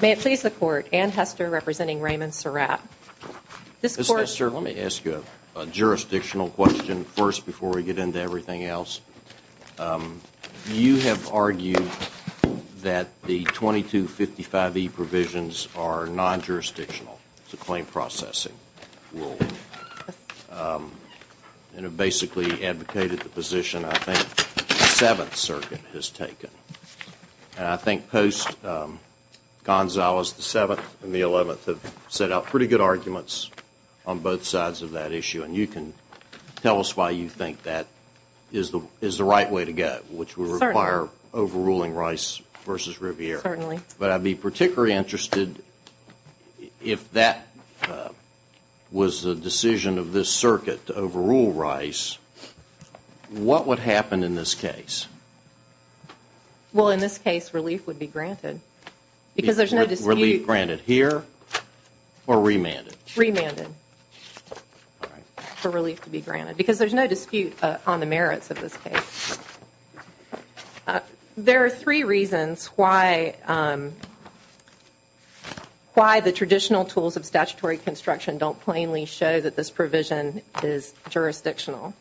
May it please the Court, Anne Hester representing Raymond Surratt. Ms. Hester, let me ask you a jurisdictional question first before we get into everything else. You have argued that the 2255E provisions are non-jurisdictional to claim processing. And have basically advocated the position I think the Seventh Circuit has taken. And I think Post, Gonzalez, the Seventh, and the Eleventh have set out pretty good arguments on both sides of that issue. And you can tell us why you think that is the right way to go, which would require overruling Rice v. Riviere. But I'd be particularly interested if that was the decision of this circuit to overrule Rice, what would happen in this case? Well, in this case, relief would be granted. Relief granted here or remanded? Remanded for relief to be granted because there's no dispute on the merits of this case. There are three reasons why the traditional tools of statutory construction don't plainly show that this provision is jurisdictional.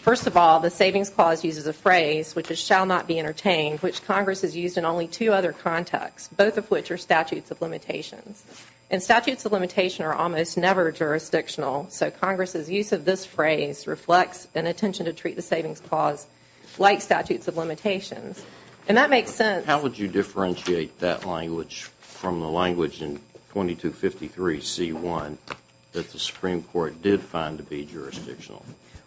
First of all, the Savings Clause uses a phrase, which is, shall not be entertained, which Congress has used in only two other contexts, both of which are statutes of limitations. And statutes of limitations are almost never jurisdictional, so Congress's use of this phrase reflects an intention to treat the Savings Clause like statutes of limitations. And that makes sense. How would you differentiate that language from the language in 2253C1 that the Supreme Court did find to be jurisdictional?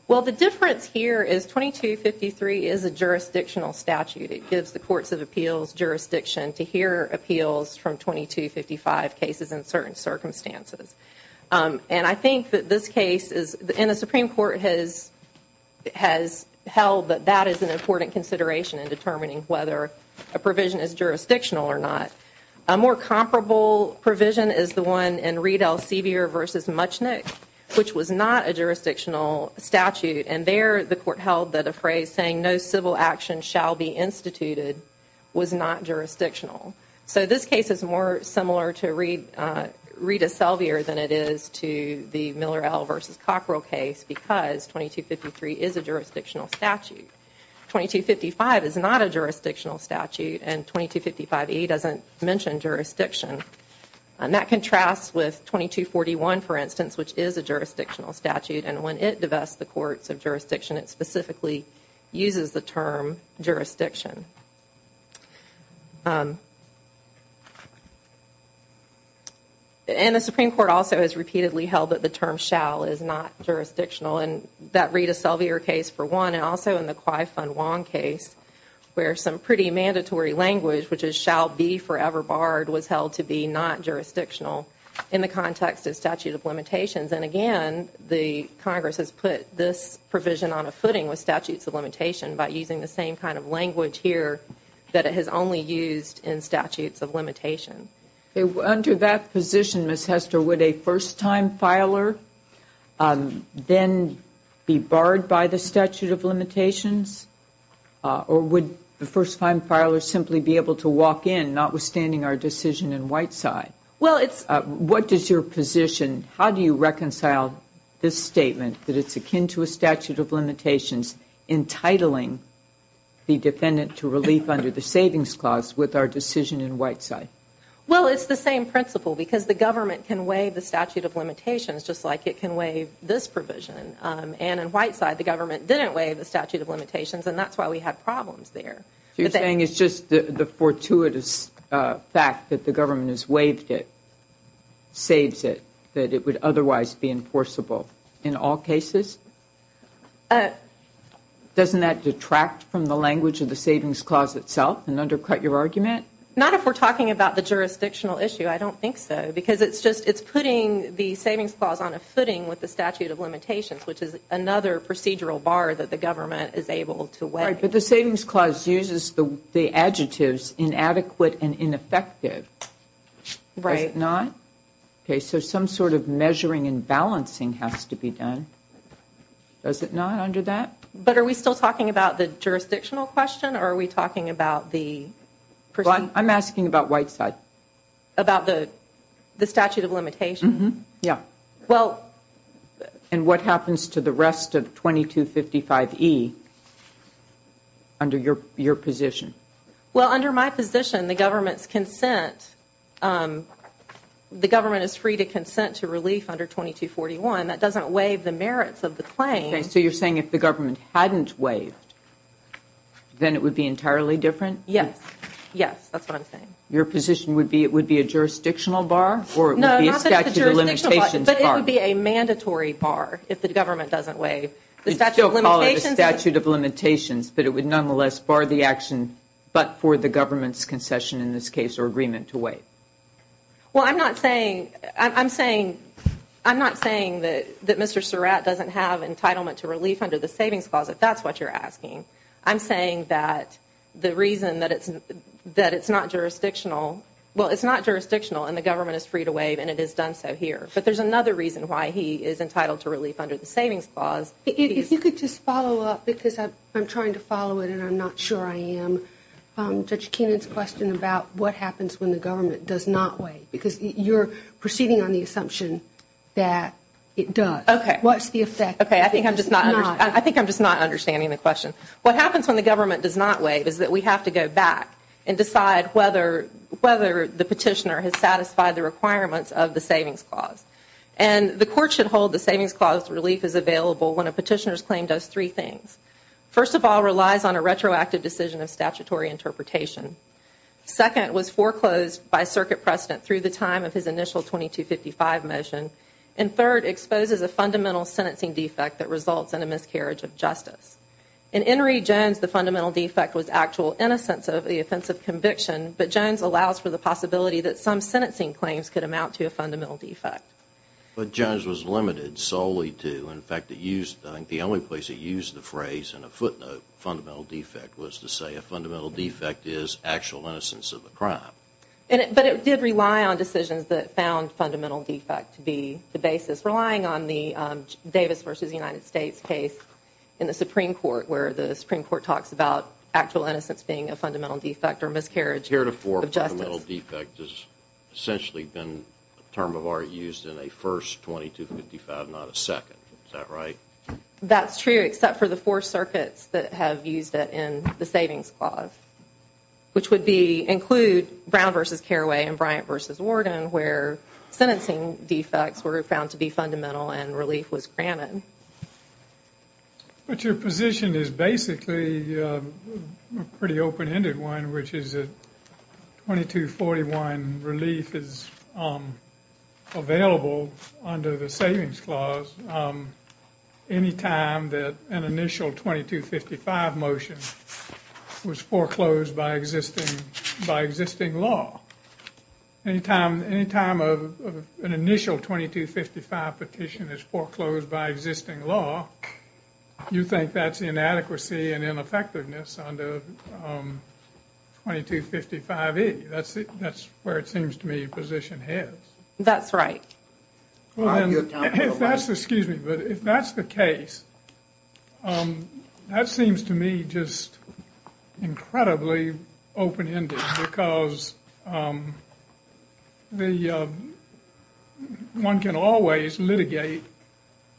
Well, the difference here is 2253 is a jurisdictional statute. It gives the Courts of Appeals jurisdiction to hear appeals from 2255 cases in certain circumstances. And I think that this case in the Supreme Court has held that that is an important consideration in determining whether a provision is jurisdictional or not. A more comparable provision is the one in Reed-Elsevier v. Muchnick, which was not a jurisdictional statute. And there the Court held that a phrase saying, no civil action shall be instituted, was not jurisdictional. So this case is more similar to Reed-Elsevier than it is to the Miller-El versus Cockrell case because 2253 is a jurisdictional statute. 2255 is not a jurisdictional statute and 2255E doesn't mention jurisdiction. And that contrasts with 2241, for instance, which is a jurisdictional statute. And when it divests the Courts of Jurisdiction, it specifically uses the term jurisdiction. And the Supreme Court also has repeatedly held that the term shall is not jurisdictional. And that Reed-Elsevier case, for one, and also in the Quy-Son-Wong case, where some pretty mandatory language, which is shall be forever barred, was held to be not jurisdictional in the context of statute of limitations. And again, the Congress has put this provision on a footing with statute of limitations by using the same kind of language here that it has only used in statute of limitations. Under that position, Ms. Hester, would a first-time filer then be barred by the statute of limitations? Or would the first-time filer simply be able to walk in, notwithstanding our decision in Whiteside? What is your position? How do you reconcile this statement, that it's akin to a statute of limitations, entitling the defendant to relief under the savings clause with our decision in Whiteside? Well, it's the same principle, because the government can waive the statute of limitations just like it can waive this provision. And in Whiteside, the government didn't waive the statute of limitations, and that's why we have problems there. So you're saying it's just the fortuitous fact that the government has waived it, saves it, that it would otherwise be enforceable in all cases? Doesn't that detract from the language of the savings clause itself and undercut your argument? Not if we're talking about the jurisdictional issue. I don't think so. Because it's putting the savings clause on a footing with the statute of limitations, which is another procedural bar that the government is able to waive. Right, but the savings clause uses the adjectives inadequate and ineffective. Right. Okay, so some sort of measuring and balancing has to be done. Does it not under that? But are we still talking about the jurisdictional question, or are we talking about the... Well, I'm asking about Whiteside. About the statute of limitations? Yes. Well... And what happens to the rest of 2255E under your position? Well, under my position, the government's consent, the government is free to consent to relief under 2241. That doesn't waive the merits of the claim. Okay, so you're saying if the government hadn't waived, then it would be entirely different? Yes. Yes, that's what I'm saying. Your position would be it would be a jurisdictional bar? No, not that it's a jurisdictional bar, but it would be a mandatory bar if the government doesn't waive the statute of limitations. But it would nonetheless bar the action but for the government's concession, in this case, or agreement to waive. Well, I'm not saying that Mr. Surratt doesn't have entitlement to relief under the savings clause, if that's what you're asking. I'm saying that the reason that it's not jurisdictional... Well, it's not jurisdictional, and the government is free to waive, and it has done so here. But there's another reason why he is entitled to relief under the savings clause. If you could just follow up, because I'm trying to follow it and I'm not sure I am. Judge Kinnan's question about what happens when the government does not waive, because you're proceeding on the assumption that it does. Okay. What's the effect? Okay, I think I'm just not understanding the question. What happens when the government does not waive is that we have to go back and decide whether the petitioner has satisfied the requirements of the savings clause. And the court should hold the savings clause relief is available when a petitioner's claim does three things. First of all, it relies on a retroactive decision of statutory interpretation. Second, it was foreclosed by circuit precedent through the time of his initial 2255 motion. And third, it exposes a fundamental sentencing defect that results in a miscarriage of justice. In Henry Jones, the fundamental defect was actual innocence of the offensive conviction, but Jones allows for the possibility that some sentencing claims could amount to a fundamental defect. But Jones was limited solely to, in fact, the only place it used the phrase in a footnote, fundamental defect, was to say a fundamental defect is actual innocence of a crime. But it did rely on decisions that found fundamental defect to be the basis. It's relying on the Davis v. United States case in the Supreme Court, where the Supreme Court talks about actual innocence being a fundamental defect or miscarriage of justice. Heretofore, fundamental defect has essentially been a term of art used in a first 2255, not a second. Is that right? That's true, except for the four circuits that have used it in the savings clause, which would include Brown v. Carraway and Bryant v. Worden, where sentencing defects were found to be fundamental and relief was granted. But your position is basically a pretty open-ended one, which is that 2241 relief is available under the savings clause any time that an initial 2255 motion was foreclosed by existing law. Any time an initial 2255 petition is foreclosed by existing law, you think that's inadequacy and ineffectiveness under 2255E. That's where it seems to me your position heads. That's right. If that's the case, that seems to me just incredibly open-ended because one can always litigate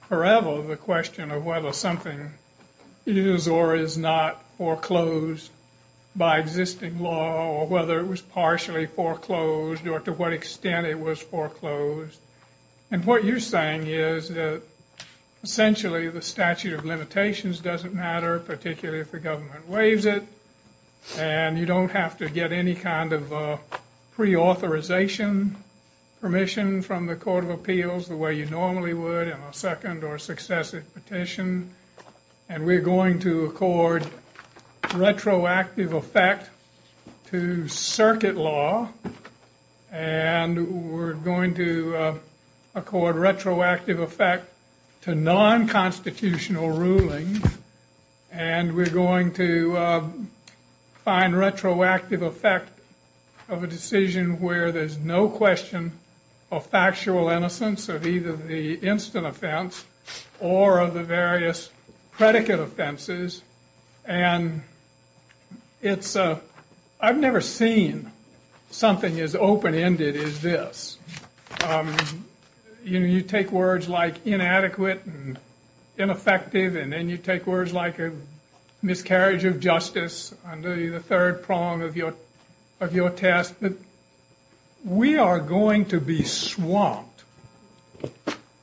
forever the question of whether something is or is not foreclosed by existing law or whether it was partially foreclosed or to what extent it was foreclosed. And what you're saying is that essentially the statute of limitations doesn't matter, particularly if the government waives it, and you don't have to get any kind of preauthorization permission from the Court of Appeals the way you normally would in a second or successive petition. And we're going to accord retroactive effect to circuit law, and we're going to accord retroactive effect to non-constitutional rulings, and we're going to find retroactive effect of a decision where there's no question of factual innocence of either the instant offense or of the various predicate offenses. And I've never seen something as open-ended as this. You take words like inadequate and ineffective, and then you take words like a miscarriage of justice under the third prong of your test. We are going to be swamped,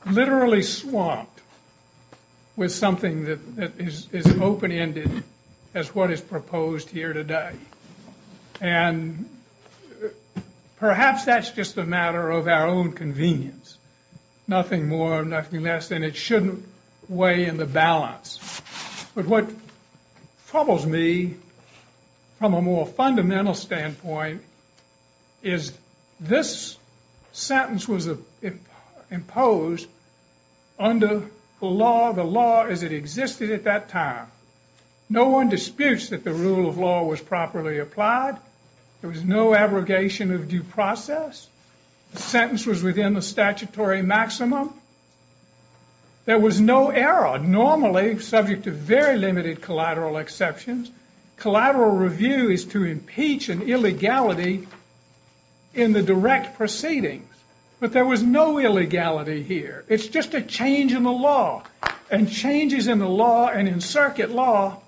literally swamped, with something that is open-ended as what is proposed here today. And perhaps that's just a matter of our own convenience. Nothing more, nothing less, and it shouldn't weigh in the balance. But what troubles me from a more fundamental standpoint is this sentence was imposed under the law as it existed at that time. No one disputes that the rule of law was properly applied. There was no abrogation of due process. The sentence was within the statutory maximum. There was no error. Normally, subject to very limited collateral exceptions, collateral review is to impeach an illegality in the direct proceedings. But there was no illegality here. It's just a change in the law. And changes in the law and in circuit law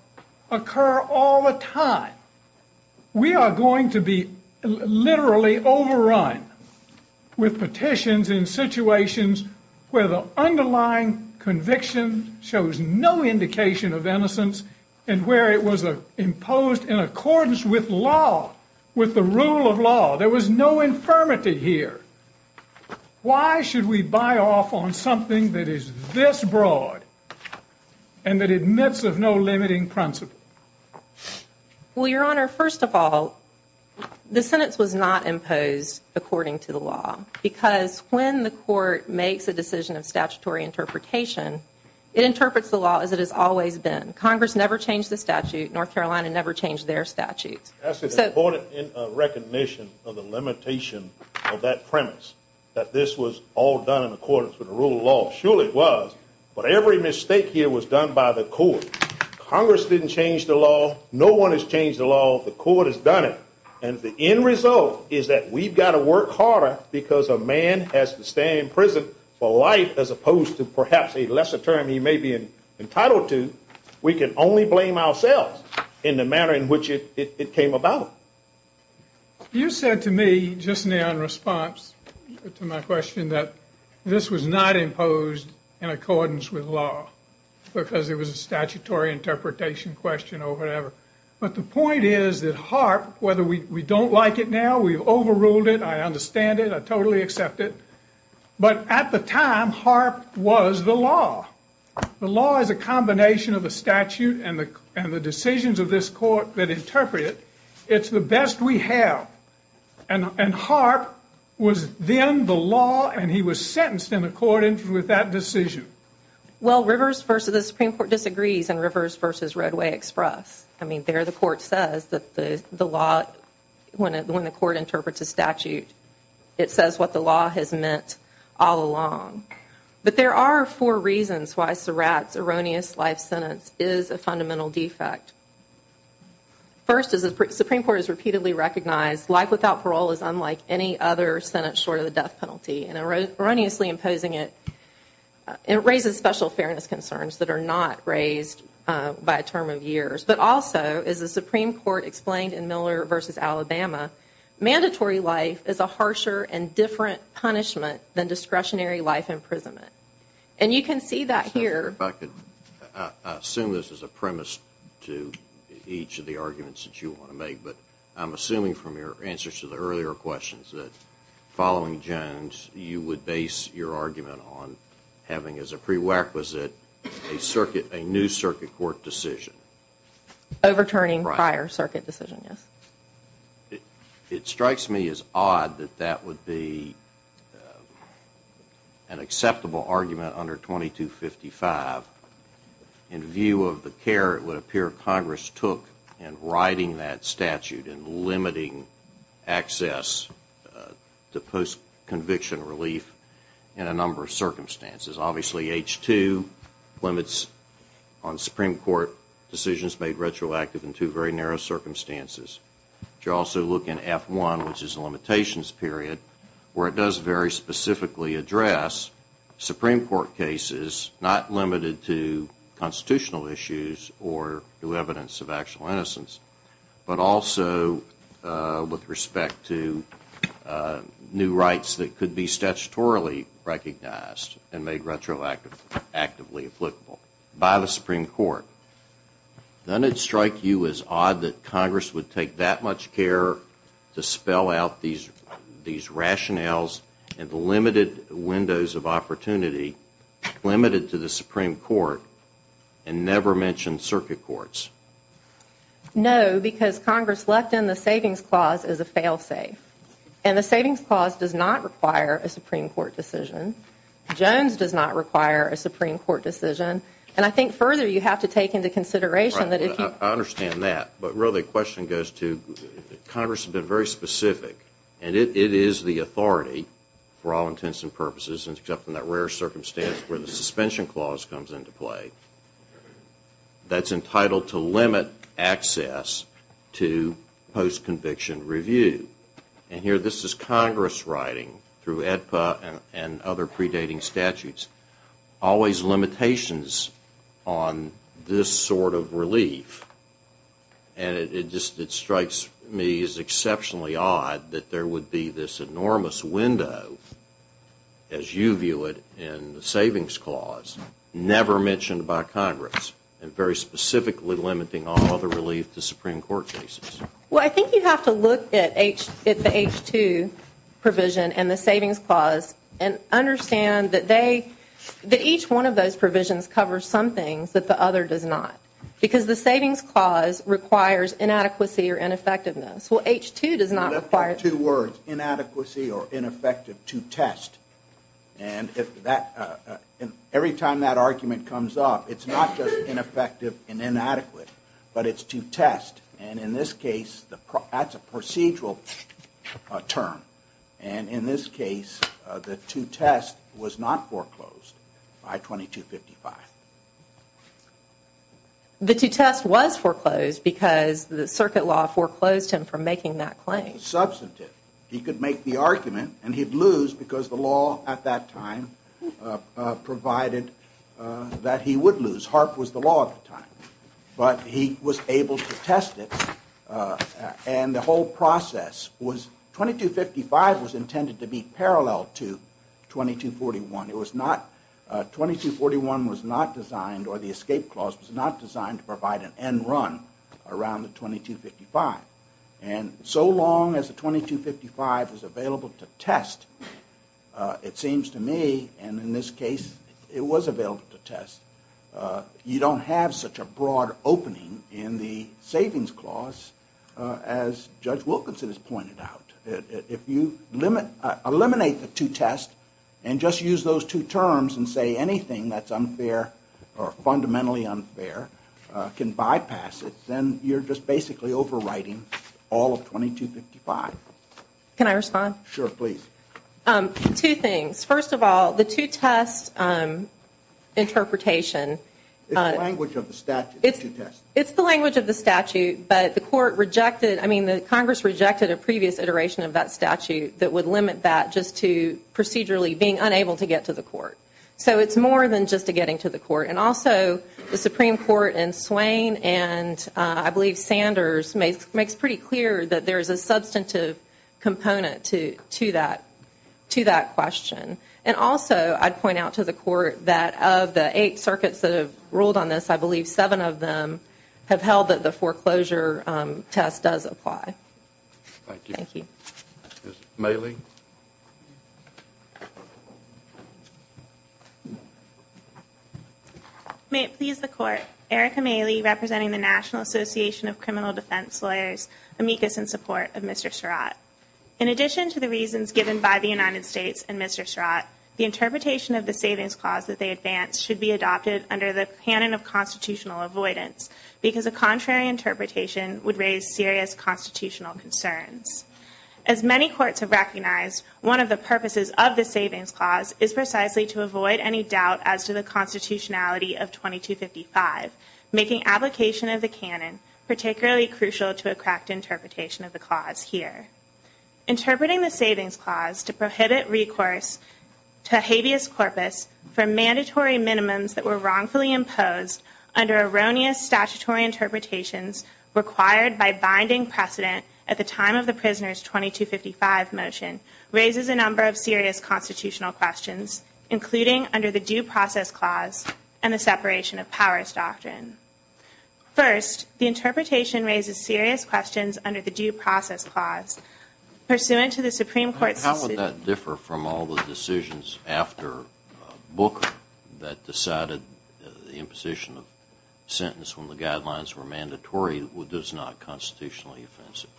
occur all the time. We are going to be literally overrun with petitions in situations where the underlying conviction shows no indication of innocence and where it was imposed in accordance with law, with the rule of law. There was no infirmity here. Why should we buy off on something that is this broad and that admits of no limiting principle? Well, Your Honor, first of all, the sentence was not imposed according to the law because when the court makes a decision of statutory interpretation, it interprets the law as it has always been. Congress never changed the statute. North Carolina never changed their statute. That's an important recognition of the limitation of that premise that this was all done in accordance with the rule of law. Sure it was, but every mistake here was done by the court. Congress didn't change the law. No one has changed the law. The court has done it. And the end result is that we've got to work harder because a man has to stay in prison for life as opposed to perhaps a lesser term he may be entitled to. We can only blame ourselves in the manner in which it came about. You said to me just now in response to my question that this was not imposed in accordance with law because it was a statutory interpretation question or whatever. But the point is that HAARP, whether we don't like it now, we've overruled it, I understand it, I totally accept it, but at the time, HAARP was the law. The law is a combination of the statute and the decisions of this court that interpret it. It's the best we have. And HAARP was then the law, and he was sentenced in accordance with that decision. Well, Rivers v. The Supreme Court disagrees in Rivers v. Roadway Express. I mean, there the court says that the law, when the court interprets a statute, it says what the law has meant all along. But there are four reasons why Surratt's erroneous life sentence is a fundamental defect. First, the Supreme Court has repeatedly recognized life without parole is unlike any other sentence short of the death penalty, and erroneously imposing it raises special fairness concerns that are not raised by a term of years. But also, as the Supreme Court explained in Miller v. Alabama, mandatory life is a harsher and different punishment than discretionary life imprisonment. And you can see that here. I assume this is a premise to each of the arguments that you want to make, but I'm assuming from your answers to the earlier questions that following Jones you would base your argument on having as a prerequisite a new circuit court decision. Overturning prior circuit decision, yes. It strikes me as odd that that would be an acceptable argument under 2255. In view of the care it would appear Congress took in writing that statute and limiting access to post-conviction relief in a number of circumstances. Obviously, H-2 limits on Supreme Court decisions made retroactive in two very narrow circumstances. You also look in F-1, which is a limitations period, where it does very specifically address Supreme Court cases not limited to constitutional issues or to evidence of actual innocence, but also with respect to new rights that could be statutorily recognized and made retroactively applicable by the Supreme Court. Then it would strike you as odd that Congress would take that much care to spell out these rationales and the limited windows of opportunity limited to the Supreme Court and never mention circuit courts. No, because Congress left in the Savings Clause as a fail-safe. The Savings Clause does not require a Supreme Court decision. Jones does not require a Supreme Court decision. I think further you have to take into consideration that if you... I understand that, but really the question goes to Congress has been very specific and it is the authority for all intents and purposes except in that rare circumstance when the Suspension Clause comes into play that is entitled to limit access to post-conviction review. And here this is Congress writing through AEDPA and other predating statutes, always limitations on this sort of relief. And it strikes me as exceptionally odd that there would be this enormous window, as you view it in the Savings Clause, never mentioned by Congress and very specifically limiting all the relief to Supreme Court cases. Well, I think you have to look at the H2 provision and the Savings Clause and understand that each one of those provisions covers some things that the other does not because the Savings Clause requires inadequacy or ineffectiveness. Well, H2 does not require... In other words, inadequacy or ineffective to test. And every time that argument comes up, it's not just ineffective and inadequate, but it's to test and in this case that's a procedural term. And in this case, the to test was not foreclosed by 2255. The to test was foreclosed because the circuit law foreclosed him from making that claim. Substantive. He could make the argument and he'd lose because the law at that time provided that he would lose. Hart was the law at the time. But he was able to test it and the whole process was... 2255 was intended to be parallel to 2241. 2241 was not designed or the escape clause was not designed to provide an end run around the 2255. And so long as the 2255 was available to test, it seems to me, and in this case it was available to test, you don't have such a broad opening in the Savings Clause as Judge Wilkinson has pointed out. If you eliminate the to test and just use those two terms and say anything that's unfair or fundamentally unfair can bypass it, then you're just basically overwriting all of 2255. Can I respond? Sure, please. Two things. First of all, the to test interpretation... It's the language of the statute. But the court rejected, I mean, the Congress rejected a previous iteration of that statute that would limit that just to procedurally being unable to get to the court. So it's more than just the getting to the court. And also the Supreme Court in Swain and I believe Sanders makes pretty clear that there's a substantive component to that question. And also I'd point out to the court that of the eight circuits that have ruled on this, I believe seven of them have held that the foreclosure test does apply. Thank you. Ms. Mailey. May it please the Court, Erica Mailey representing the National Association of Criminal Defense Lawyers, amicus in support of Mr. Sherratt. In addition to the reasons given by the United States and Mr. Sherratt, the interpretation of the Savings Clause as they advance should be adopted under the canon of constitutional avoidance because a contrary interpretation would raise serious constitutional concerns. As many courts have recognized, one of the purposes of the Savings Clause is precisely to avoid any doubt as to the constitutionality of 2255, making application of the canon particularly crucial to a correct interpretation of the clause here. Interpreting the Savings Clause to prohibit recourse to habeas corpus for mandatory minimums that were wrongfully imposed under erroneous statutory interpretations required by binding precedent at the time of the prisoner's 2255 motion raises a number of serious constitutional questions, including under the Due Process Clause and the separation of powers doctrine. First, the interpretation raises serious questions under the Due Process Clause. Pursuant to the Supreme Court... How would that differ from all the decisions after Booker that decided the imposition of sentence when the guidelines were mandatory was this not constitutionally offensive?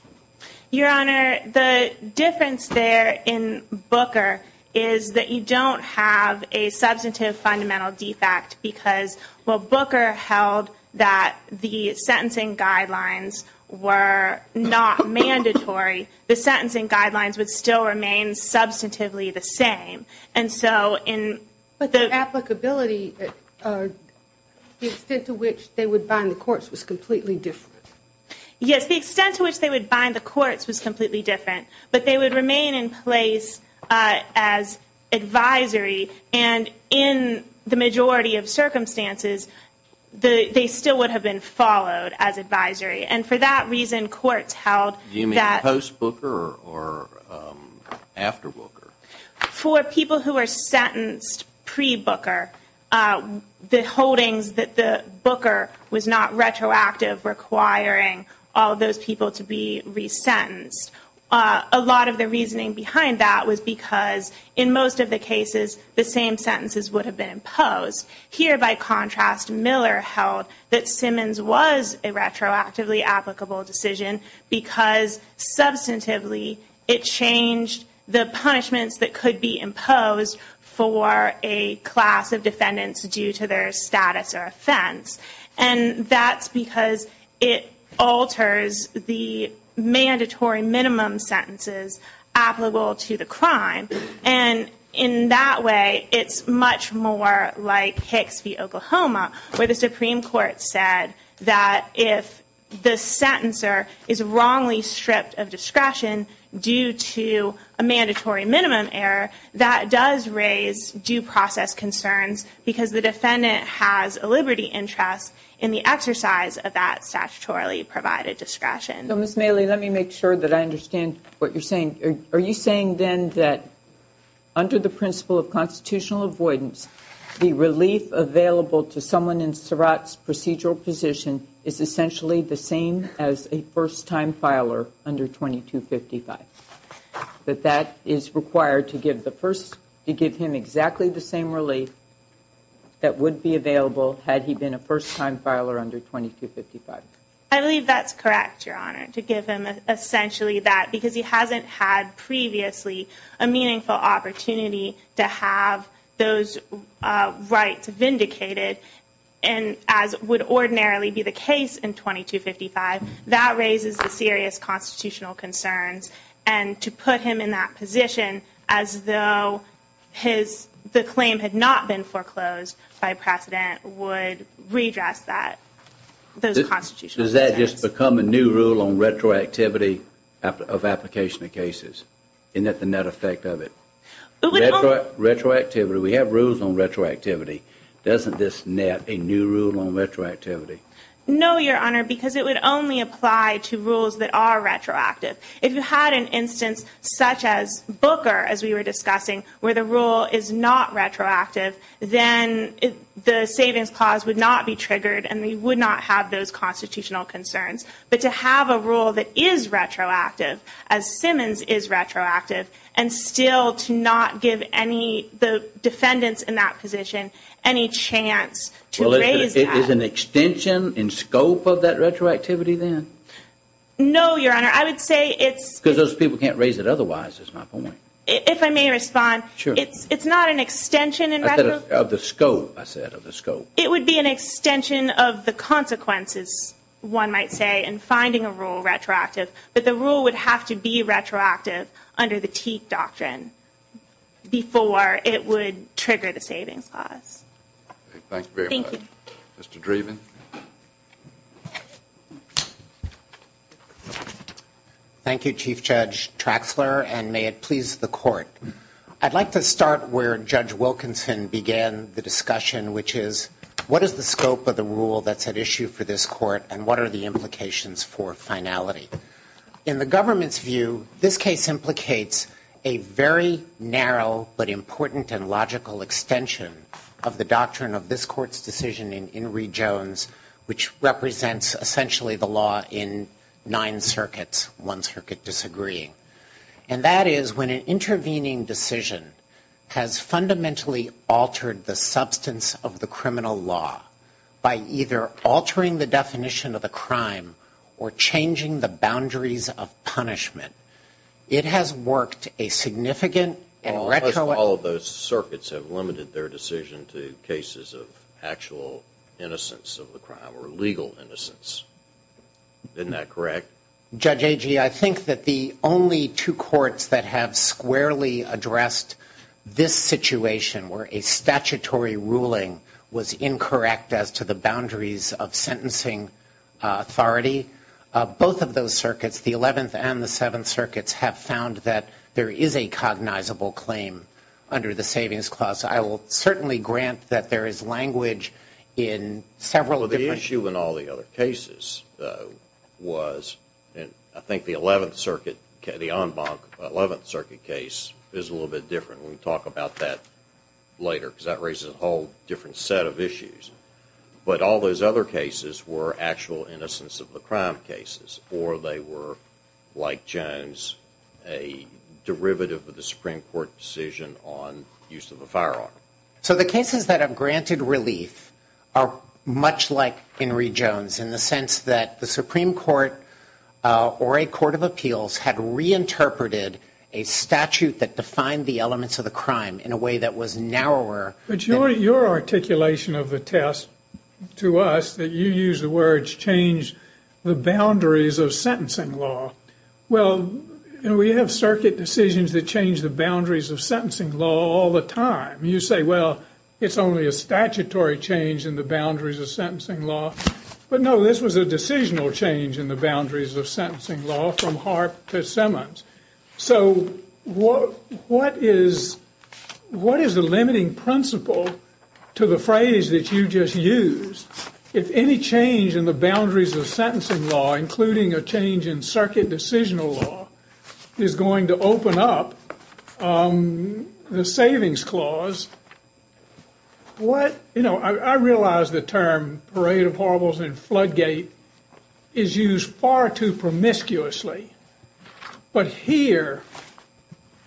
Your Honor, the difference there in Booker is that you don't have a substantive fundamental defect because while Booker held that the sentencing guidelines were not mandatory, the sentencing guidelines would still remain substantively the same. But the applicability, the extent to which they would bind the courts was completely different. Yes, the extent to which they would bind the courts was completely different, but they would remain in place as advisory and in the majority of circumstances, they still would have been followed as advisory. And for that reason, courts held that... Do you mean post-Booker or after Booker? For people who were sentenced pre-Booker, the holding that the Booker was not retroactive requiring all those people to be resentenced, a lot of the reasoning behind that was because in most of the cases, the same sentences would have been imposed. Here, by contrast, Miller held that Simmons was a retroactively applicable decision because substantively it changed the punishments that could be imposed for a class of defendants due to their status or offense. And that's because it alters the mandatory minimum sentences applicable to the crime. And in that way, it's much more like Hicks v. Oklahoma, where the Supreme Court said that if the sentencer is wrongly stripped of discretion due to a mandatory minimum error, that does raise due process concerns because the defendant has a liberty interest in the exercise of that statutorily provided discretion. So, Ms. Mailey, let me make sure that I understand what you're saying. Are you saying then that under the principle of constitutional avoidance, the relief available to someone in Surratt's procedural position is essentially the same as a first-time filer under 2255? That that is required to give him exactly the same relief that would be available had he been a first-time filer under 2255? I believe that's correct, Your Honor, to give him essentially that because he hasn't had previously a meaningful opportunity to have those rights vindicated, and as would ordinarily be the case in 2255, that raises a serious constitutional concern. And to put him in that position as though the claim had not been foreclosed by precedent would redress those constitutional concerns. Does that just become a new rule on retroactivity of application of cases? Isn't that the net effect of it? Retroactivity, we have rules on retroactivity. Doesn't this net a new rule on retroactivity? No, Your Honor, because it would only apply to rules that are retroactive. If you had an instance such as Booker, as we were discussing, where the rule is not retroactive, then the savings clause would not be triggered and we would not have those constitutional concerns. But to have a rule that is retroactive, as Simmons is retroactive, and still to not give the defendants in that position any chance to raise that. Well, is it an extension in scope of that retroactivity then? No, Your Honor, I would say it's... Because those people can't raise it otherwise, is my point. If I may respond, it's not an extension in retro... Of the scope, I said, of the scope. It would be an extension of the consequences, one might say, in finding a rule retroactive, but the rule would have to be retroactive under the Teeth Doctrine before it would trigger the savings clause. Thank you very much. Mr. Dreeben. Thank you, Chief Judge Traxler, and may it please the Court. I'd like to start where Judge Wilkinson began the discussion, which is what is the scope of the rule that's at issue for this Court and what are the implications for finality? In the government's view, this case implicates a very narrow but important and logical extension of the doctrine of this Court's decision in Reed-Jones, which represents essentially the law in nine circuits, one circuit disagreeing. And that is when an intervening decision has fundamentally altered the substance of the criminal law by either altering the definition of the crime or changing the boundaries of punishment. It has worked a significant and retroactive... All of those circuits have limited their decision to cases of actual innocence of the crime or legal innocence. Isn't that correct? Judge Agee, I think that the only two courts that have squarely addressed this situation where a statutory ruling was incorrect as to the boundaries of sentencing authority, both of those circuits, the 11th and the 7th circuits, have found that there is a cognizable claim under the savings clause. I will certainly grant that there is language in several different... I think the 11th circuit case is a little bit different. We'll talk about that later because that raises a whole different set of issues. But all those other cases were actual innocence of the crime cases or they were, like Jones, a derivative of the Supreme Court decision on use of the firearm. So the cases that have granted relief are much like in Reed-Jones in the sense that the Supreme Court or a court of appeals had reinterpreted a statute that defined the elements of the crime in a way that was narrower. But your articulation of the test to us, that you used the words change the boundaries of sentencing law, well, we have circuit decisions that change the boundaries of sentencing law all the time. You say, well, it's only a statutory change in the boundaries of sentencing law. But no, this was a decisional change in the boundaries of sentencing law from Harp to Simmons. So what is the limiting principle to the phrase that you just used? If any change in the boundaries of sentencing law, including a change in circuit decisional law, is going to open up the savings clause, I realize the term Parade of Horribles and Floodgate is used far too promiscuously. But here,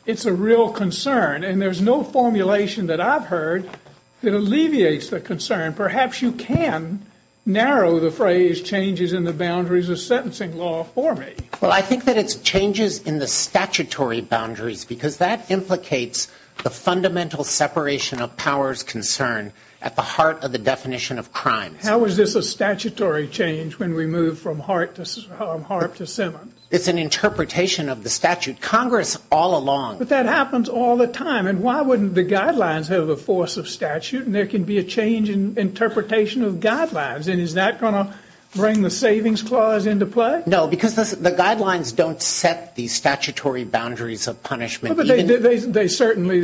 it's a real concern. And there's no formulation that I've heard that alleviates the concern. Perhaps you can narrow the phrase changes in the boundaries of sentencing law for me. Well, I think that it's changes in the statutory boundaries because that implicates the fundamental separation of powers concern at the heart of the definition of crime. How is this a statutory change when we move from Harp to Simmons? It's an interpretation of the statute. Congress all along... But that happens all the time. And why wouldn't the guidelines have the force of statute? And there can be a change in interpretation of guidelines. And is that going to bring the savings clause into play? No, because the guidelines don't set the statutory boundaries of punishment. But they certainly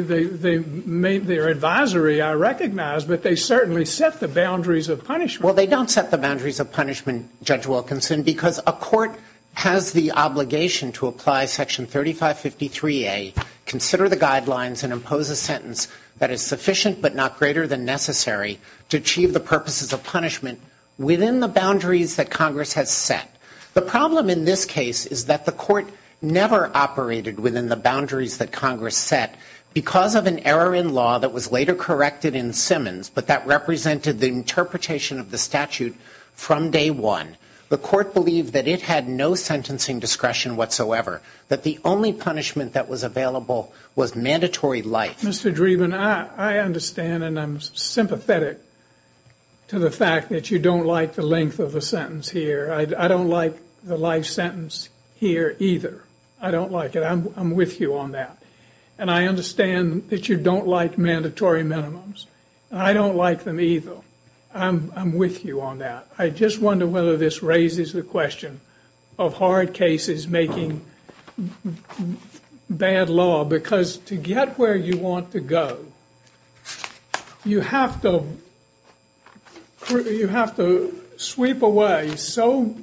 made their advisory, I recognize, but they certainly set the boundaries of punishment. Well, they don't set the boundaries of punishment, Judge Wilkinson, because a court has the obligation to apply Section 3553A, consider the guidelines and impose a sentence that is sufficient but not greater than necessary to achieve the purposes of punishment within the boundaries that Congress has set. The problem in this case is that the court never operated within the boundaries that Congress set because of an error in law that was later corrected in Simmons, but that represented the interpretation of the statute from day one. The court believed that it had no sentencing discretion whatsoever, that the only punishment that was available was mandatory life. Mr. Dreeben, I understand and I'm sympathetic to the fact that you don't like the length of the sentence here. I don't like the life sentence here either. I don't like it. I'm with you on that. And I understand that you don't like mandatory minimums. I don't like them either. I'm with you on that. I just wonder whether this raises the question of hard cases making bad law, because to get where you want to go, you have to sweep away so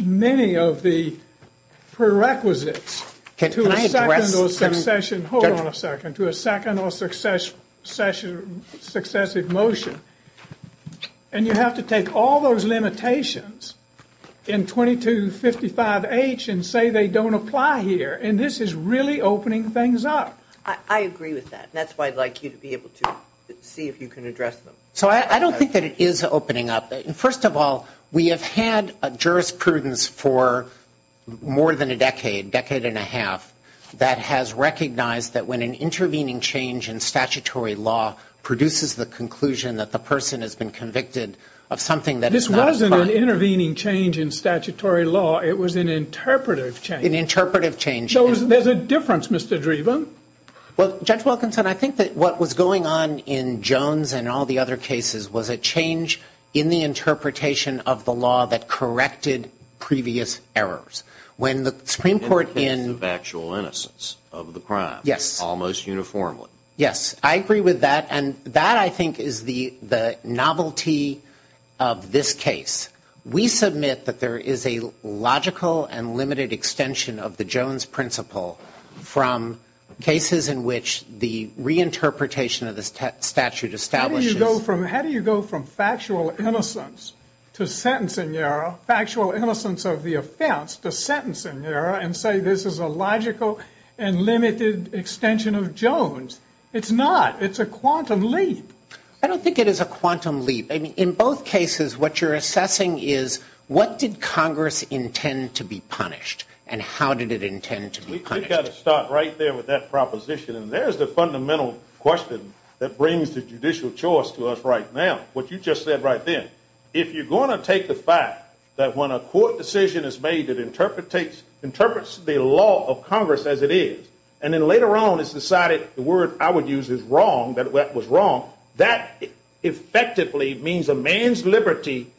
many of the prerequisites to a second or successive motion. And you have to take all those limitations in 2255H and say they don't apply here. And this is really opening things up. I agree with that. That's why I'd like you to be able to see if you can address them. So I don't think that it is opening up. First of all, we have had a jurisprudence for more than a decade, decade and a half, that has recognized that when an intervening change in statutory law produces the conclusion that the person has been convicted of something that is not a crime. This wasn't an intervening change in statutory law. It was an interpretive change. An interpretive change. So there's a difference, Mr. Dreeben. Well, Judge Wilkinson, I think that what was going on in Jones and all the other cases was a change in the interpretation of the law that corrected previous errors. When the Supreme Court in… When the case of actual innocence of the crime, almost uniformly. Yes, I agree with that. And that, I think, is the novelty of this case. We submit that there is a logical and limited extension of the Jones principle from cases in which the reinterpretation of the statute establishes… How do you go from factual innocence to sentencing error, factual innocence of the offense to sentencing error and say this is a logical and limited extension of Jones? It's not. It's a quantum leap. I don't think it is a quantum leap. In both cases, what you're assessing is what did Congress intend to be punished and how did it intend to be punished. We've got to start right there with that proposition. And there's the fundamental question that brings the judicial choice to us right now, what you just said right then. If you're going to take the fact that when a court decision is made it interprets the law of Congress as it is and then later on it's decided the word I would use is wrong, that that was wrong, that effectively means a man's liberty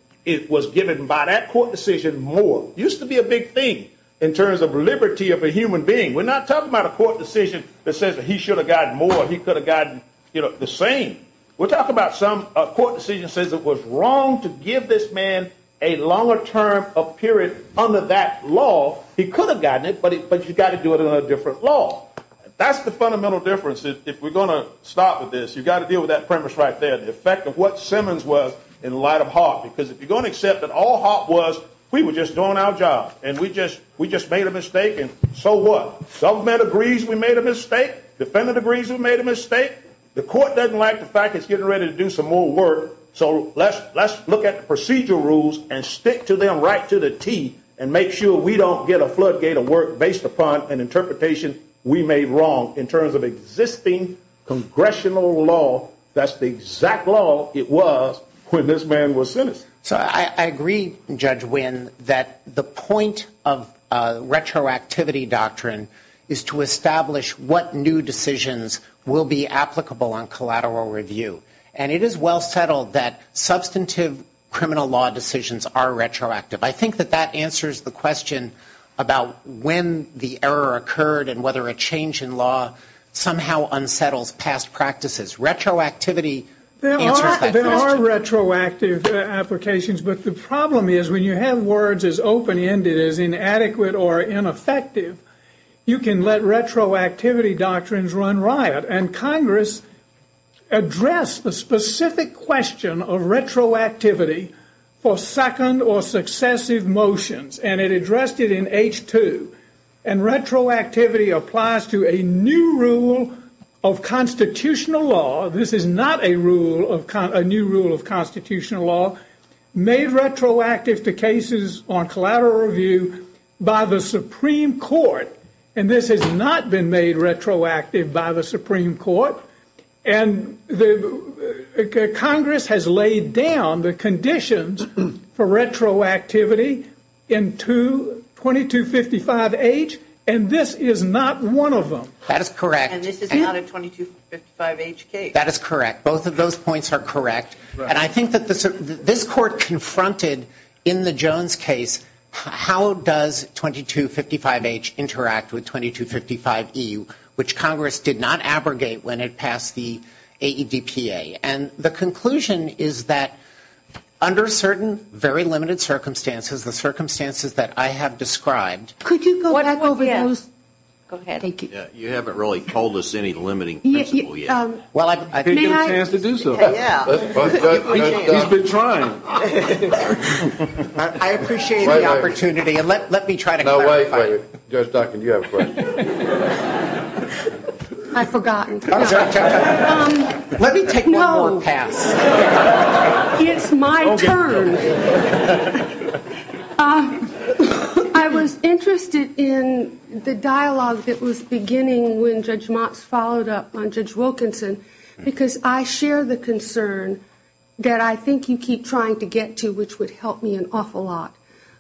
was given by that court decision more. It used to be a big thing in terms of liberty of a human being. We're not talking about a court decision that says he should have gotten more, he could have gotten the same. We're talking about a court decision that says it was wrong to give this man a longer term of period under that law. He could have gotten it, but you've got to do it under a different law. That's the fundamental difference. If we're going to start with this, you've got to deal with that premise right there, the effect of what Simmons was in light of Hart. Because if you're going to accept that all Hart was, we were just doing our job and we just made a mistake and so what? Submit agrees we made a mistake. Defendant agrees we made a mistake. The court doesn't like the fact it's getting ready to do some more work, so let's look at the procedural rules and stick to them right to the teeth and make sure we don't get a floodgate of work based upon an interpretation we made wrong in terms of existing congressional law that's the exact law it was when this man was sentenced. So I agree, Judge Wynn, that the point of retroactivity doctrine is to establish what new decisions will be applicable on collateral review. And it is well settled that substantive criminal law decisions are retroactive. I think that that answers the question about when the error occurred and whether a change in law somehow unsettles past practices. Retroactivity answers that question. There are retroactive applications, but the problem is when you have words as open-ended as inadequate or ineffective, you can let retroactivity doctrines run riot and Congress addressed the specific question of retroactivity for second or successive motions and it addressed it in H-2. And retroactivity applies to a new rule of constitutional law. This is not a new rule of constitutional law made retroactive to cases on collateral review by the Supreme Court. And this has not been made retroactive by the Supreme Court. And Congress has laid down the conditions for retroactivity in 2255H and this is not one of them. That is correct. And this is not a 2255H case. That is correct. Both of those points are correct. And I think that this Court confronted in the Jones case how does 2255H interact with 2255E, which Congress did not abrogate when it passed the AEDPA. And the conclusion is that under certain very limited circumstances, the circumstances that I have described... Could you go back over those? Go ahead. Thank you. You haven't really told us any limiting principle yet. Well, I think you have a chance to do so. Yeah. He's been trying. I appreciate the opportunity. Let me try to clarify. Judge Duncan, you have a question. I've forgotten. Oh, Judge Duncan. Let me take that long pass. No. It's my turn. I was interested in the dialogue that was beginning when Judge Motz followed up on Judge Wilkinson because I share the concern that I think you keep trying to get to, which would help me an awful lot,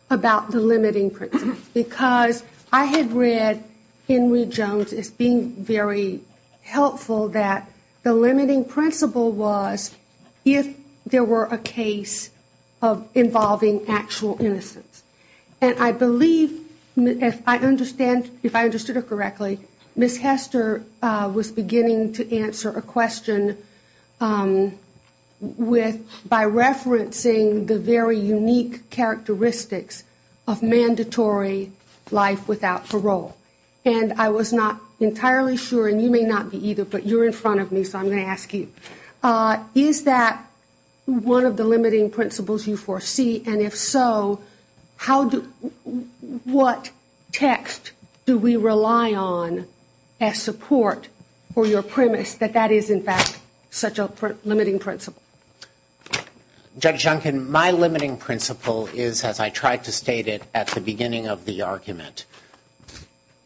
about the limiting principle. Because I had read in Reed-Jones as being very helpful that the limiting principle was if there were a case involving actual innocence. And I believe, if I understood it correctly, Ms. Hester was beginning to answer a question by referencing the very unique characteristics of mandatory life without parole. And I was not entirely sure, and you may not be either, but you're in front of me, so I'm going to ask you. Is that one of the limiting principles you foresee? And if so, what text do we rely on as support for your premise that that is, in fact, such a limiting principle? Judge Duncan, my limiting principle is, as I tried to state it at the beginning of the argument,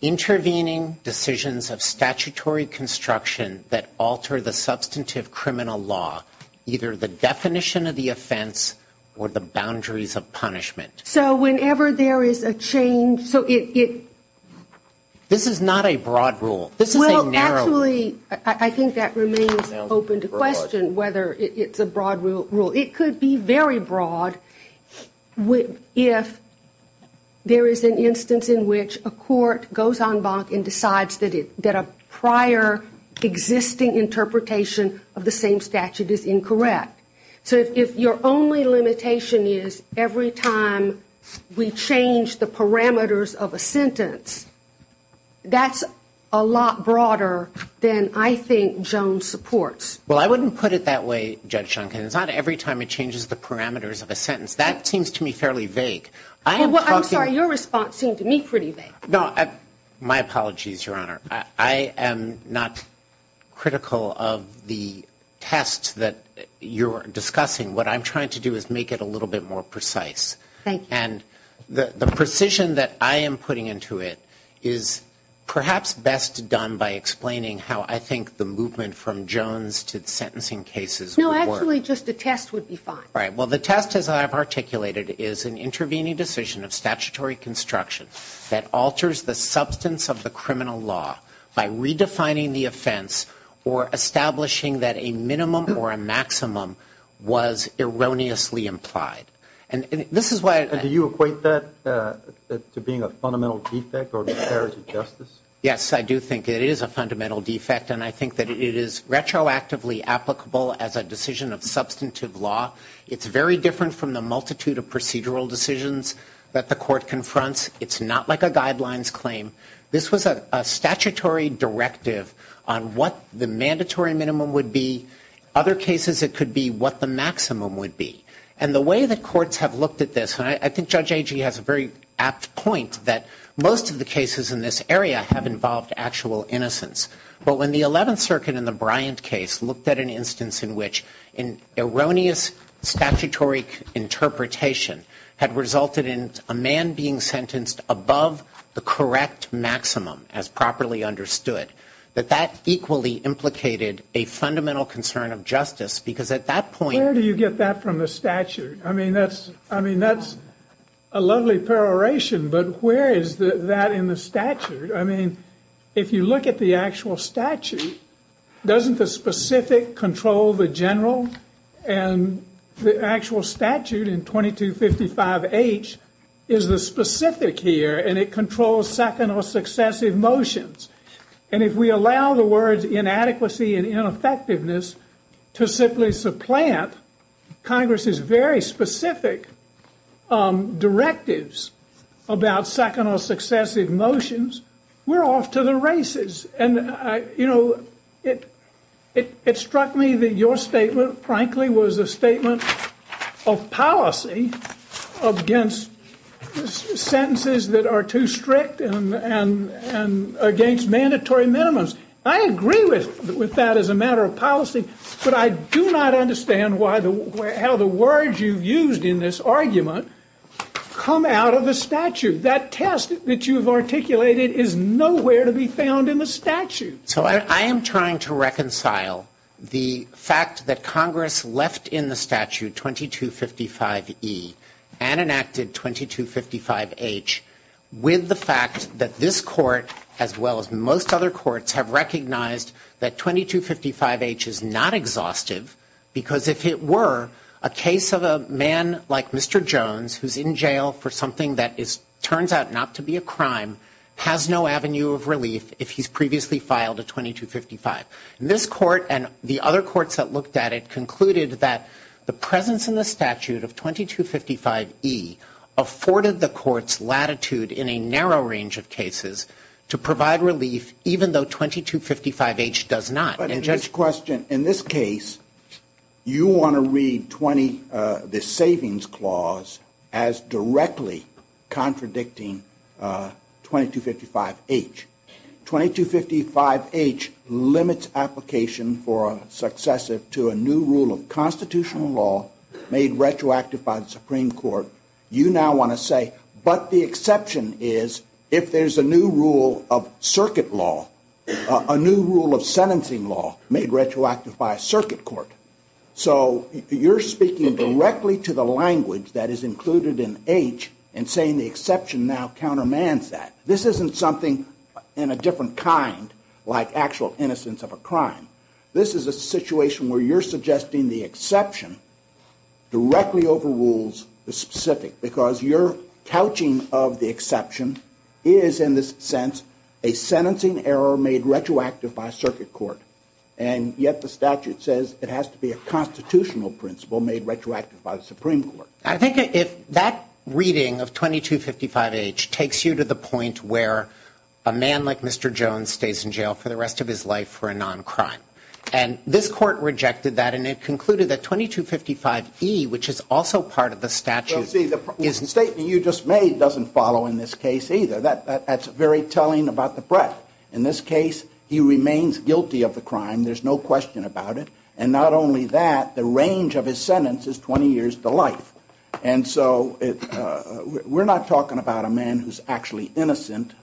intervening decisions of statutory construction that alter the substantive criminal law, either the definition of the offense or the boundaries of punishment. So whenever there is a change... This is not a broad rule. Well, actually, I think that remains open to question whether it's a broad rule. It could be very broad if there is an instance in which a court goes en banc and decides that a prior existing interpretation of the same statute is incorrect. So if your only limitation is every time we change the parameters of a sentence, that's a lot broader than I think Jones supports. Well, I wouldn't put it that way, Judge Duncan. It's not every time it changes the parameters of a sentence. That seems to me fairly vague. I'm sorry, your response seemed to me pretty vague. No, my apologies, your Honour. I am not critical of the test that you're discussing. What I'm trying to do is make it a little bit more precise. Thank you. And the precision that I am putting into it is perhaps best done by explaining how I think the movement from Jones to sentencing cases... No, actually, just the test would be fine. Right. Well, the test, as I've articulated, is an intervening decision of statutory construction that alters the substance of the criminal law by redefining the offence or establishing that a minimum or a maximum was erroneously implied. And this is why... Do you equate that to being a fundamental defect or a disparity to justice? Yes, I do think it is a fundamental defect, and I think that it is retroactively applicable as a decision of substantive law. It's very different from the multitude of procedural decisions that the court confronts. It's not like a guidelines claim. This was a statutory directive on what the mandatory minimum would be. Other cases, it could be what the maximum would be. And the way that courts have looked at this... And I think Judge Agee has a very apt point that most of the cases in this area have involved actual innocence. Well, in the 11th Circuit, in the Bryant case, looked at an instance in which an erroneous statutory interpretation had resulted in a man being sentenced above the correct maximum as properly understood. But that equally implicated a fundamental concern of justice because at that point... Where do you get that from the statute? I mean, that's a lovely peroration, but where is that in the statute? I mean, if you look at the actual statute, doesn't the specific control the general and the actual statute in 2255H is the specific here and it controls second or successive motions? And if we allow the words inadequacy and ineffectiveness to simply supplant Congress's very specific directives about second or successive motions, we're off to the races. And, you know, it struck me that your statement, frankly, was a statement of policy against sentences that are too strict and against mandatory minimums. I agree with that as a matter of policy, but I do not understand how the words you used in this argument come out of the statute. That test that you've articulated is nowhere to be found in the statute. So I am trying to reconcile the fact that Congress left in the statute 2255E and enacted 2255H with the fact that this court, as well as most other courts, have recognized that 2255H is not exhaustive because if it were, a case of a man like Mr. Jones, who's in jail for something that turns out not to be a crime, has no avenue of relief if he's previously filed a 2255. This court and the other courts that looked at it concluded that the presence in the statute of 2255E afforded the court's latitude in a narrow range of cases to provide relief, even though 2255H does not. But in this question, in this case, you want to read the savings clause as directly contradicting 2255H. 2255H limits application for a successive to a new rule of constitutional law made retroactive by the Supreme Court. You now want to say, but the exception is if there's a new rule of circuit law, a new rule of sentencing law made retroactive by a circuit court. So you're speaking directly to the language that is included in H and saying the exception now countermands that. This isn't something in a different kind like actual innocence of a crime. This is a situation where you're suggesting the exception directly overrules the specific because your couching of the exception is, in this sense, a sentencing error made retroactive by a circuit court. And yet the statute says it has to be a constitutional principle made retroactive by the Supreme Court. I think that reading of 2255H takes you to the point where a man like Mr. Jones stays in jail for the rest of his life for a non-crime. And this court rejected that and it concluded that 2255E, which is also part of the statute... Well, see, the statement you just made doesn't follow in this case either. That's very telling about the press. In this case, he remains guilty of the crime. There's no question about it. And not only that, the range of his sentence is 20 years to life. And so we're not talking about a man who's actually innocent,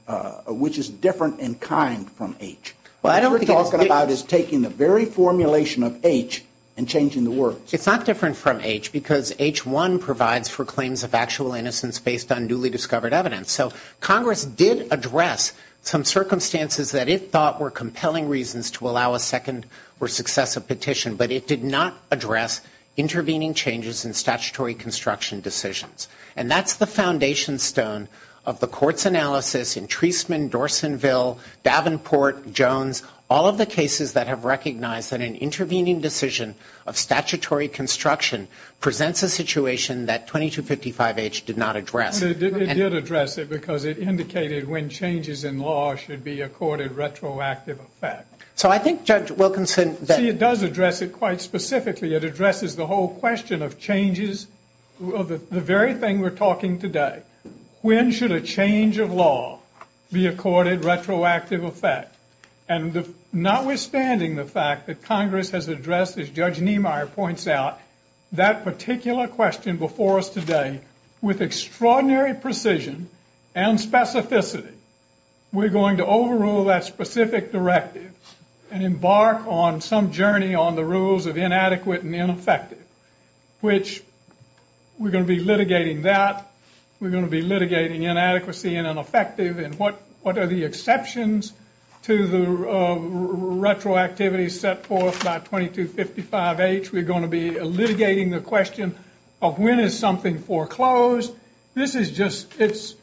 which is different in kind from H. What we're talking about is taking the very formulation of H and changing the word. It's not different from H because H1 provides for claims of actual innocence based on newly discovered evidence. So Congress did address some circumstances that it thought were compelling reasons to allow a second or successive petition, but it did not address intervening changes in statutory construction decisions. And that's the foundation stone of the court's analysis in Treisman, Dorsenville, Davenport, Jones, all of the cases that have recognized that an intervening decision of statutory construction presents a situation that 2255H did not address. It did address it because it indicated when changes in law should be accorded retroactive effect. So I think Judge Wilkinson... It does address it quite specifically. It addresses the whole question of changes, the very thing we're talking today. When should a change of law be accorded retroactive effect? And notwithstanding the fact that Congress has addressed, as Judge Niemeyer points out, that particular question before us today with extraordinary precision and specificity, we're going to overrule that specific directive and embark on some journey on the rules of inadequate and ineffective, which we're going to be litigating that. We're going to be litigating inadequacy and ineffective and what are the exceptions to the retroactivity set forth by 2255H. We're going to be litigating the question of when is something foreclosed. This is just... It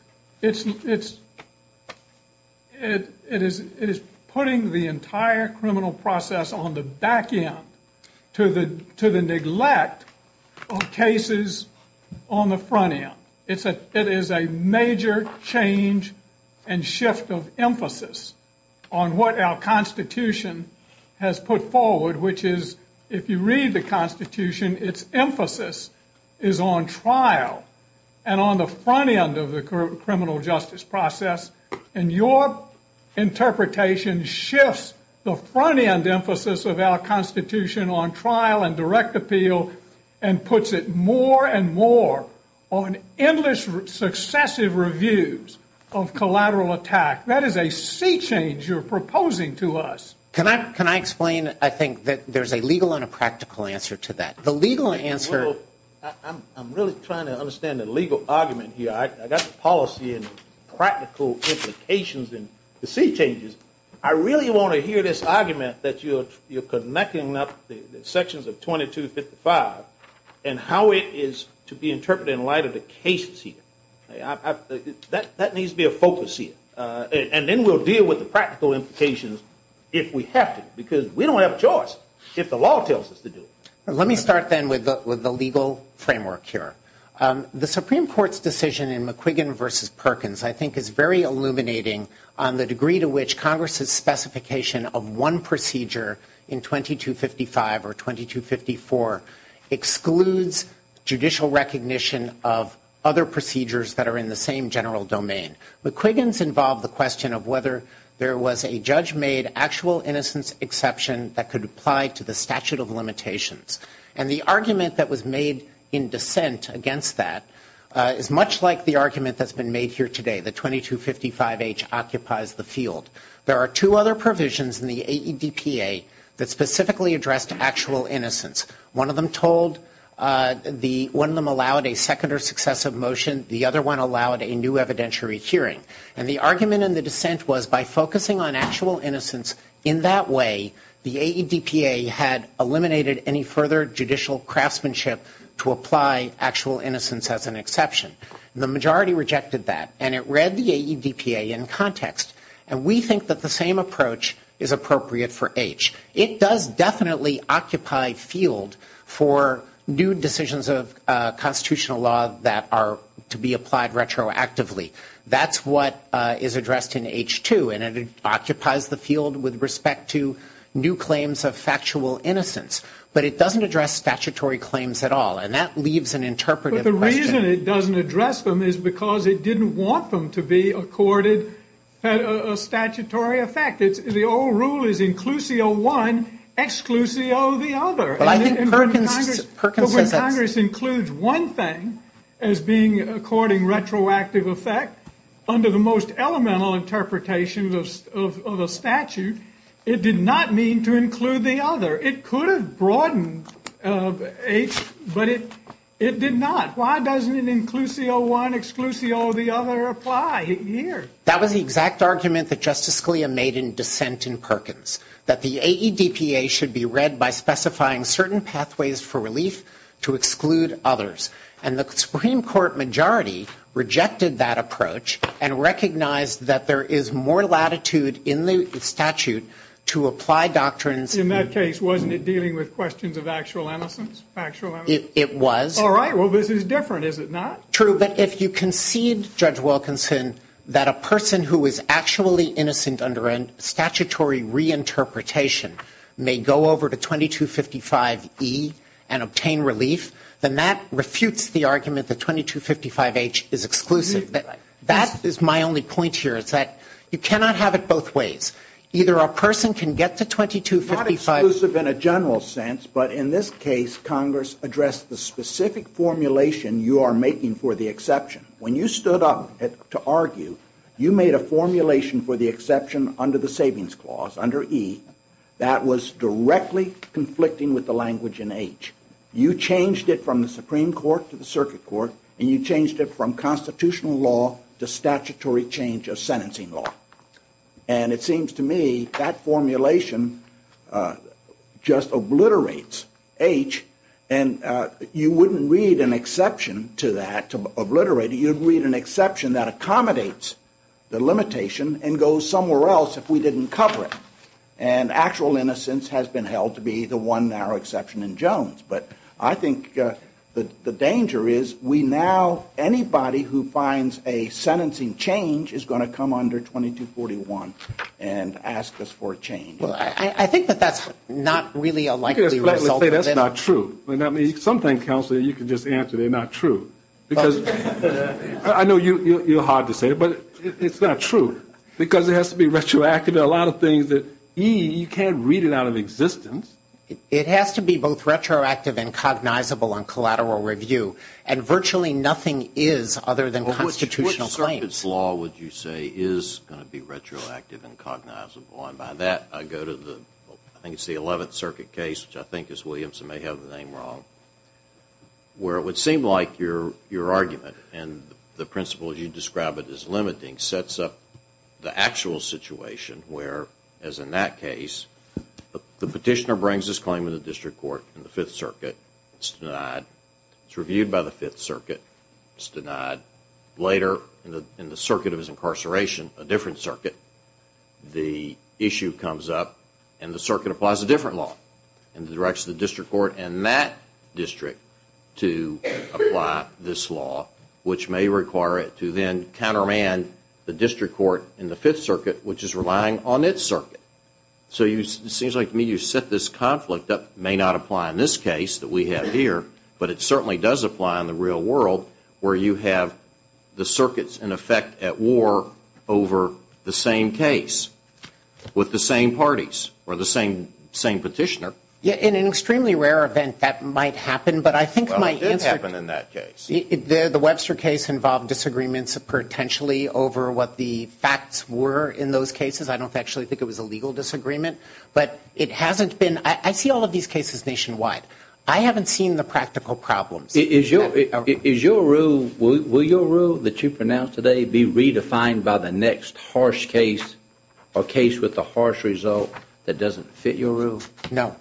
is putting the entire criminal process on the back end to the neglect of cases on the front end. It is a major change and shift of emphasis on what our Constitution has put forward, which is, if you read the Constitution, its emphasis is on trial and on the front end of the criminal justice process, and your interpretation shifts the front-end emphasis of our Constitution on trial and direct appeal and puts it more and more on endless successive reviews of collateral attack. That is a sea change you're proposing to us. Can I explain? I think that there's a legal and a practical answer to that. The legal answer... I'm really trying to understand the legal argument here. I got the policy and practical implications and the sea changes. I really want to hear this argument that you're connecting up the sections of 2255 and how it is to be interpreted in light of the cases here. That needs to be a focus here, and then we'll deal with the practical implications if we have to, because we don't have a choice if the law tells us to do it. Let me start then with the legal framework here. The Supreme Court's decision in McQuiggan v. Perkins I think is very illuminating on the degree to which Congress's specification of one procedure in 2255 or 2254 excludes judicial recognition of other procedures that are in the same general domain. McQuiggan's involved the question of whether there was a judge-made actual innocence exception that could apply to the statute of limitations. And the argument that was made in dissent against that is much like the argument that's been made here today, that 2255H occupies the field. There are two other provisions in the AEDPA that specifically address actual innocence. One of them allowed a second or successive motion. The other one allowed a new evidentiary hearing. And the argument in the dissent was by focusing on actual innocence in that way, the AEDPA had eliminated any further judicial craftsmanship to apply actual innocence as an exception. The majority rejected that, and it read the AEDPA in context. And we think that the same approach is appropriate for H. It does definitely occupy field for new decisions of constitutional law that are to be applied retroactively. That's what is addressed in H2, and it occupies the field with respect to new claims of factual innocence. But it doesn't address statutory claims at all, and that leaves an interpretive question. But the reason it doesn't address them is because it didn't want them to be accorded a statutory effect. The old rule is inclusio one, exclusio the other. But when Congress includes one thing as being according retroactive effect, under the most elemental interpretation of a statute, it did not mean to include the other. It could have broadened H, but it did not. Why doesn't inclusio one, exclusio the other apply here? That was the exact argument that Justice Scalia made in dissent in Perkins, that the AEDPA should be read by specifying certain pathways for relief to exclude others. And the Supreme Court majority rejected that approach and recognized that there is more latitude in the statute to apply doctrines... In that case, wasn't it dealing with questions of actual innocence? It was. All right, well, this is different, is it not? True, but if you concede, Judge Wilkinson, that a person who is actually innocent under a statutory reinterpretation may go over to 2255E and obtain relief, then that refutes the argument that 2255H is exclusive. That is my only point here, is that you cannot have it both ways. Either a person can get to 2255... Not exclusive in a general sense, but in this case, Congress addressed the specific formulation you are making for the exception. When you stood up to argue, you made a formulation for the exception under the Savings Clause, under E, that was directly conflicting with the language in H. You changed it from the Supreme Court to the Circuit Court, and you changed it from constitutional law to statutory change of sentencing law. And it seems to me that formulation just obliterates H, and you wouldn't read an exception to that, to obliterate it. You'd read an exception that accommodates the limitation and goes somewhere else if we didn't cover it. And actual innocence has been held to be the one narrow exception in Jones. But I think the danger is we now... Anybody who finds a sentencing change is going to come under 2241 and ask us for a change. Well, I think that that's not really a likely result. That's not true. Sometimes, Counselor, you can just answer, they're not true. I know you're hard to say, but it's not true, because it has to be retroactive. You know, a lot of things that E, you can't read it out of existence. It has to be both retroactive and cognizable on collateral review, and virtually nothing is other than constitutional claims. Which Circuit's law would you say is going to be retroactive and cognizable? And by that, I go to the, I think it's the 11th Circuit case, which I think is Williamson, may have the name wrong, where it would seem like your argument and the principles you describe as limiting sets up the actual situation, where, as in that case, the petitioner brings his claim to the District Court in the 5th Circuit. It's denied. It's reviewed by the 5th Circuit. It's denied. Later, in the circuit of his incarceration, a different circuit, the issue comes up, and the circuit applies a different law in the direction of the District Court and that district to apply this law, which may require it to then countermand the District Court in the 5th Circuit, which is relying on its circuit. So it seems like to me you've set this conflict up, may not apply in this case that we have here, but it certainly does apply in the real world, where you have the circuits in effect at war over the same case with the same parties, or the same petitioner. In an extremely rare event, that might happen, but I think it might get there. The Webster case involved disagreements potentially over what the facts were in those cases. I don't actually think it was a legal disagreement, but it hasn't been... I see all of these cases nationwide. I haven't seen the practical problems. Is your rule... Will your rule that you pronounce today be redefined by the next harsh case, a case with a harsh result that doesn't fit your rule? No.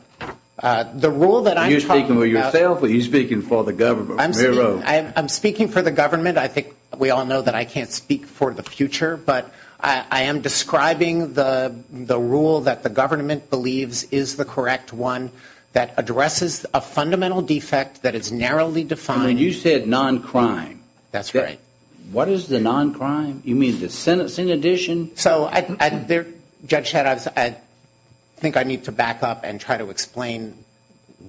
The rule that I'm talking about... Are you speaking for yourself, or are you speaking for the government? I'm speaking for the government. I think we all know that I can't speak for the future, but I am describing the rule that the government believes is the correct one that addresses a fundamental defect that is narrowly defined... I mean, you said non-crime. That's right. What is the non-crime? You mean the sentence in addition? So, Judge Hedges, I think I need to back up and try to explain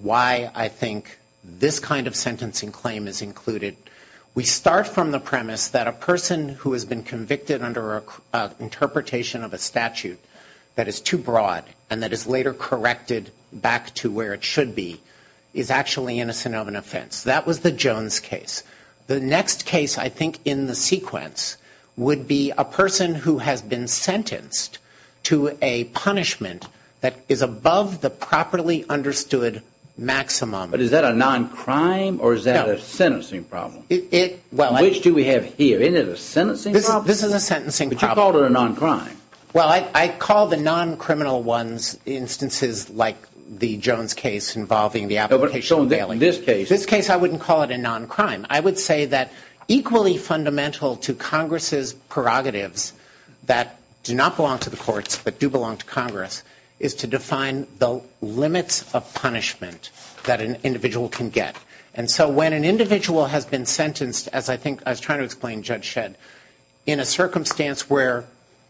why I think this kind of sentencing claim is included. We start from the premise that a person who has been convicted under an interpretation of a statute that is too broad and that is later corrected back to where it should be is actually innocent of an offense. That was the Jones case. The next case, I think, in the sequence would be a person who has been sentenced to a punishment that is above the properly understood maximum. But is that a non-crime or is that a sentencing problem? Which do we have here? Isn't it a sentencing problem? This is a sentencing problem. But you called it a non-crime. Well, I call the non-criminal ones instances like the Jones case involving the application of bailing. So in this case? In this case, I wouldn't call it a non-crime. I would say that equally fundamental to Congress's prerogatives that do not belong to the courts but do belong to Congress is to define the limits of punishment that an individual can get. And so when an individual has been sentenced, as I think I was trying to explain, Judge Shedd, in a circumstance where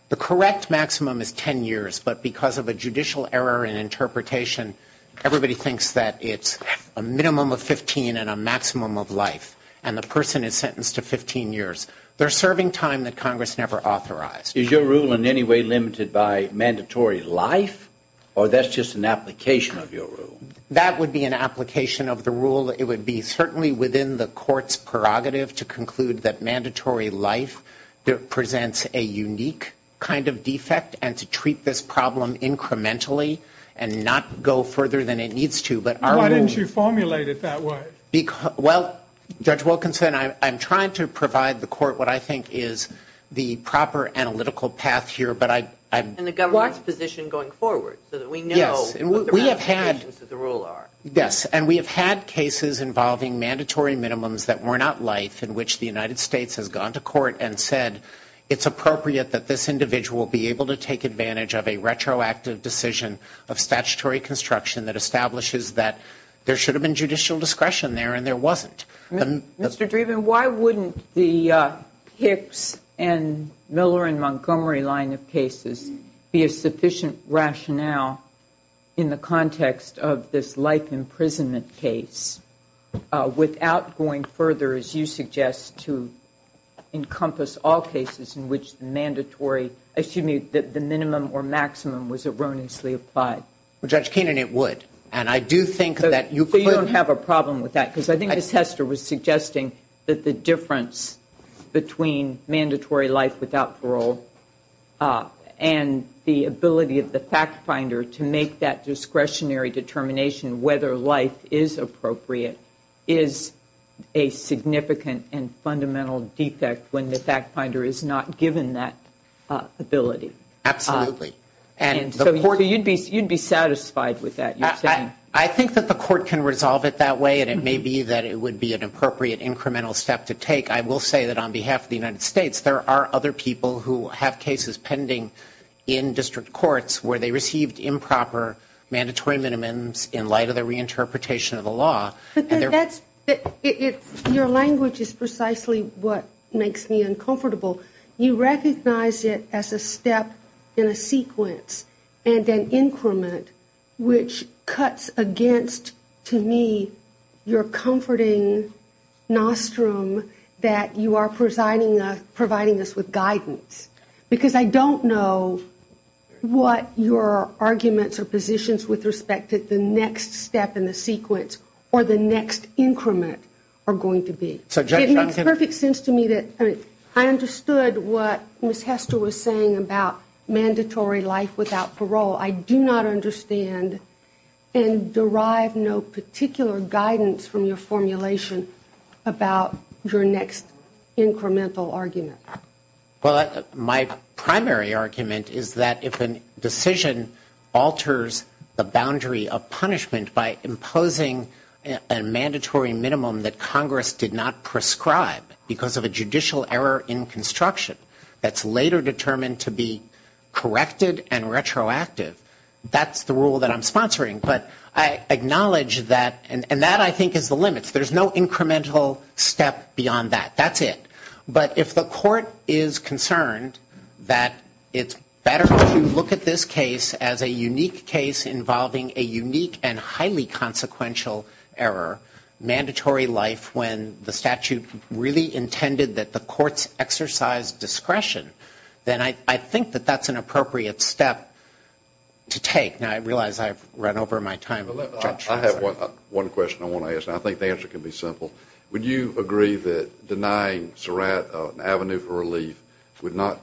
the correct maximum is 10 years but because of a judicial error in interpretation everybody thinks that it's a minimum of 15 and a maximum of life and the person is sentenced to 15 years. They're serving time that Congress never authorized. Is your rule in any way limited by mandatory life or that's just an application of your rule? That would be an application of the rule. It would be certainly within the court's prerogative to conclude that mandatory life presents a unique kind of defect and to treat this problem incrementally and not go further than it needs to. Why didn't you formulate it that way? Well, Judge Wilkinson, I'm trying to provide the court what I think is the proper analytical path here. And the government's position going forward so that we know what the right implications of the rule are. Yes, and we have had cases involving mandatory minimums that were not life in which the United States has gone to court and said it's appropriate that this individual be able to take advantage of a retroactive decision of statutory construction that establishes that there should have been judicial discretion there and there wasn't. Mr. Dreeben, why wouldn't the Hicks and Miller and Montgomery line of cases be a sufficient rationale in the context of this life imprisonment case without going further, as you suggest, to encompass all cases in which the mandatory... excuse me, the minimum or maximum was erroneously applied? Well, Judge Keenan, it would. And I do think that... So you don't have a problem with that because I think the tester was suggesting that the difference between mandatory life without parole and the ability of the fact finder to make that discretionary determination whether life is appropriate is a significant and fundamental defect when the fact finder is not given that ability. Absolutely. So you'd be satisfied with that, you're saying? I think that the court can resolve it that way and it may be that it would be an appropriate incremental step to take. I will say that on behalf of the United States, there are other people who have cases pending in district courts where they received improper mandatory minimums in light of the reinterpretation of the law. But that's... Your language is precisely what makes me uncomfortable. You recognize it as a step in a sequence and an increment which cuts against, to me, your comforting nostrum that you are providing us with guidance. Because I don't know what your arguments or positions with respect to the next step in the sequence or the next increment are going to be. It makes perfect sense to me that... I understood what Ms. Hester was saying about mandatory life without parole. I do not understand and derive no particular guidance from your formulation about your next incremental argument. Well, my primary argument is that if a decision alters the boundary of punishment by imposing a mandatory minimum that Congress did not prescribe because of a judicial error in construction that's later determined to be corrected and retroactive, that's the rule that I'm sponsoring. But I acknowledge that... And that, I think, is the limit. There's no incremental step beyond that. That's it. But if the court is concerned that it's better to look at this case as a unique case involving a unique and highly consequential error, mandatory life, when the statute really intended that the courts exercise discretion, then I think that that's an appropriate step to take. Now, I realize I've run over my time. I have one question I want to ask. I think the answer can be simple. Would you agree that denying Surratt an avenue for relief would not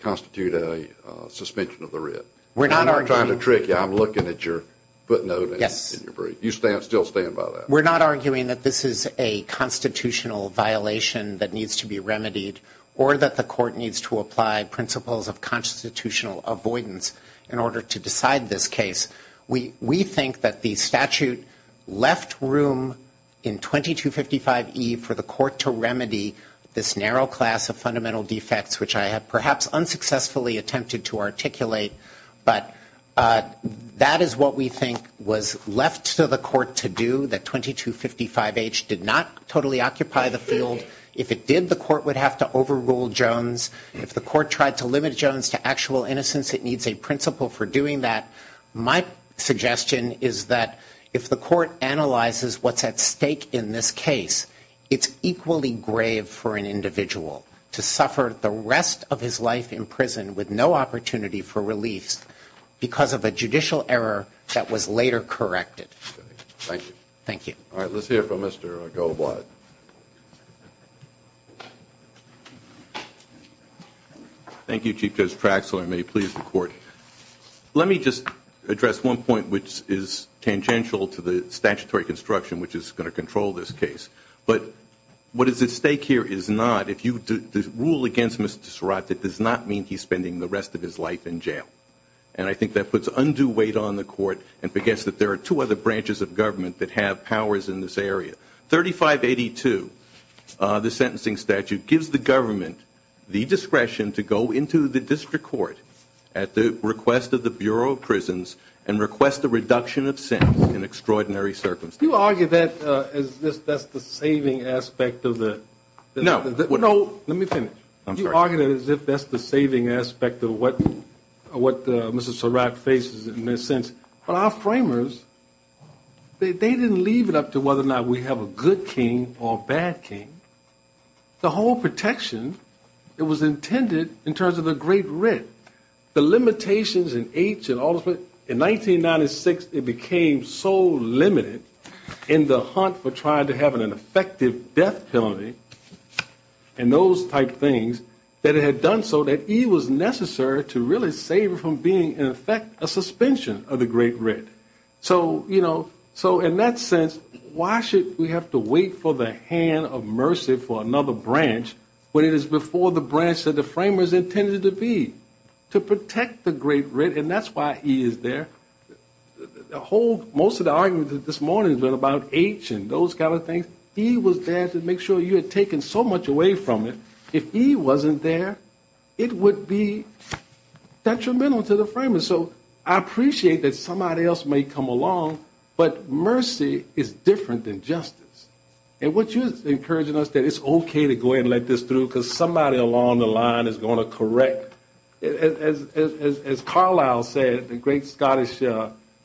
constitute a suspension of the writ? We're not arguing... I'm not trying to trick you. I'm looking at your footnote in your brief. You still stand by that? We're not arguing that this is a constitutional violation that needs to be remedied or that the court needs to apply principles of constitutional avoidance in order to decide this case. We think that the statute left room in 2255E for the court to remedy this narrow class of fundamental defects, which I have perhaps unsuccessfully attempted to articulate. But that is what we think was left to the court to do, that 2255H did not totally occupy the field and that if it did, the court would have to overrule Jones. If the court tried to limit Jones to actual innocence, it needs a principle for doing that. My suggestion is that if the court analyzes what's at stake in this case, it's equally grave for an individual to suffer the rest of his life in prison with no opportunity for release because of a judicial error that was later corrected. Thank you. Thank you. All right, let's hear from Mr. Goldblatt. Thank you, Chief Justice Praxall. I may please the court. Let me just address one point, which is tangential to the statutory construction, which is going to control this case. But what is at stake here is not, if you rule against Mr. Surratt, that does not mean he's spending the rest of his life in jail. And I think that puts undue weight on the court and forgets that there are two other branches of government that have powers in this area. 3582, the sentencing statute, gives the government the discretion to go into the district court at the request of the Bureau of Prisons and request a reduction of sentence in extraordinary circumstances. You argue that as if that's the saving aspect of the... No. No, let me finish. I'm sorry. You argue that as if that's the saving aspect of what Mr. Surratt faces, in a sense. But our framers, they didn't leave it up to whether or not we have a good king or a bad king. The whole protection, it was intended in terms of a great writ. The limitations and age and all of it, in 1996, it became so limited in the hunt for trying to have an effective death penalty and those type things, that it had done so that it was necessary to really save it from being, in effect, a suspension of the great writ. So in that sense, why should we have to wait for the hand of mercy for another branch when it is before the branch that the framers intended it to be to protect the great writ? And that's why he is there. Most of the arguments this morning have been about age and those kind of things. He was there to make sure you had taken so much away from it. If he wasn't there, it would be detrimental to the framers. So I appreciate that somebody else may come along, but mercy is different than justice. And what you're encouraging us, that it's okay to go ahead and let this through because somebody along the line is going to correct. As Carlisle said, a great Scottish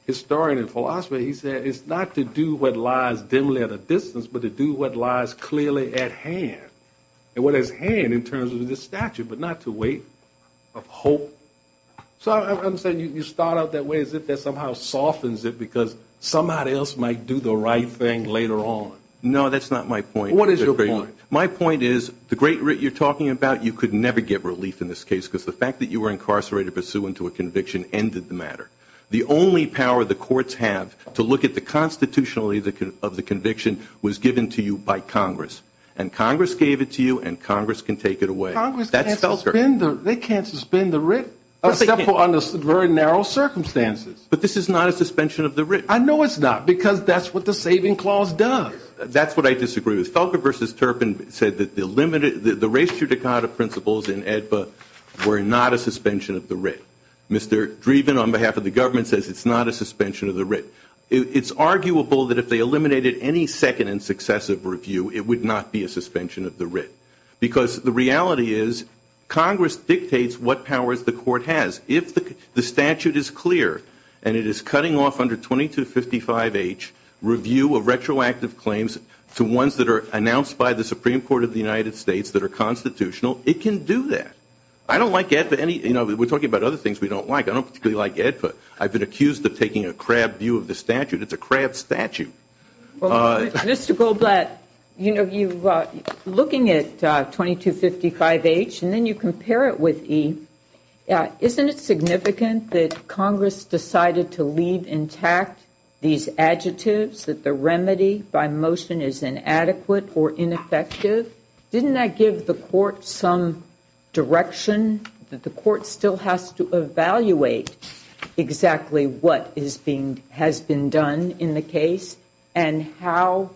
historian and philosopher, he said, it's not to do what lies dimly at a distance, but to do what lies clearly at hand. And what is at hand in terms of the statute, but not to waste of hope. So I'm saying you start out that way as if that somehow softens it because somebody else might do the right thing later on. No, that's not my point. What is your point? My point is the great writ you're talking about, you could never get relief in this case because the fact that you were incarcerated pursuant to a conviction ended the matter. The only power the courts have to look at the constitutionality of the conviction was given to you by Congress. And Congress gave it to you and Congress can take it away. Congress can't suspend the writ, except for under very narrow circumstances. But this is not a suspension of the writ. I know it's not because that's what the saving clause does. That's what I disagree with. Felker v. Turpin said that the race judicata principles in AEDPA were not a suspension of the writ. Mr. Dreeben, on behalf of the government, says it's not a suspension of the writ. It's arguable that if they eliminated any second and successive review, it would not be a suspension of the writ because the reality is Congress dictates what powers the court has. If the statute is clear and it is cutting off under 2255H review of retroactive claims to ones that are announced by the Supreme Court of the United States that are constitutional, it can do that. I don't like AEDPA. We're talking about other things we don't like. I don't particularly like AEDPA. I've been accused of taking a crab view of the statute. It's a crab statute. Mr. Goldblatt, looking at 2255H and then you compare it with EEDPA, isn't it significant that Congress decided to leave intact these adjectives, that the remedy by motion is inadequate or ineffective? Didn't that give the court some direction that the court still has to evaluate exactly what has been done in the case and how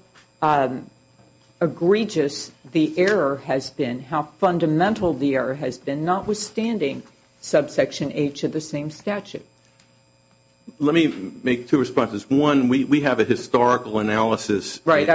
egregious the error has been, how fundamental the error has been, notwithstanding subsection H of the same statute? Let me make two responses. One, we have a historical analysis in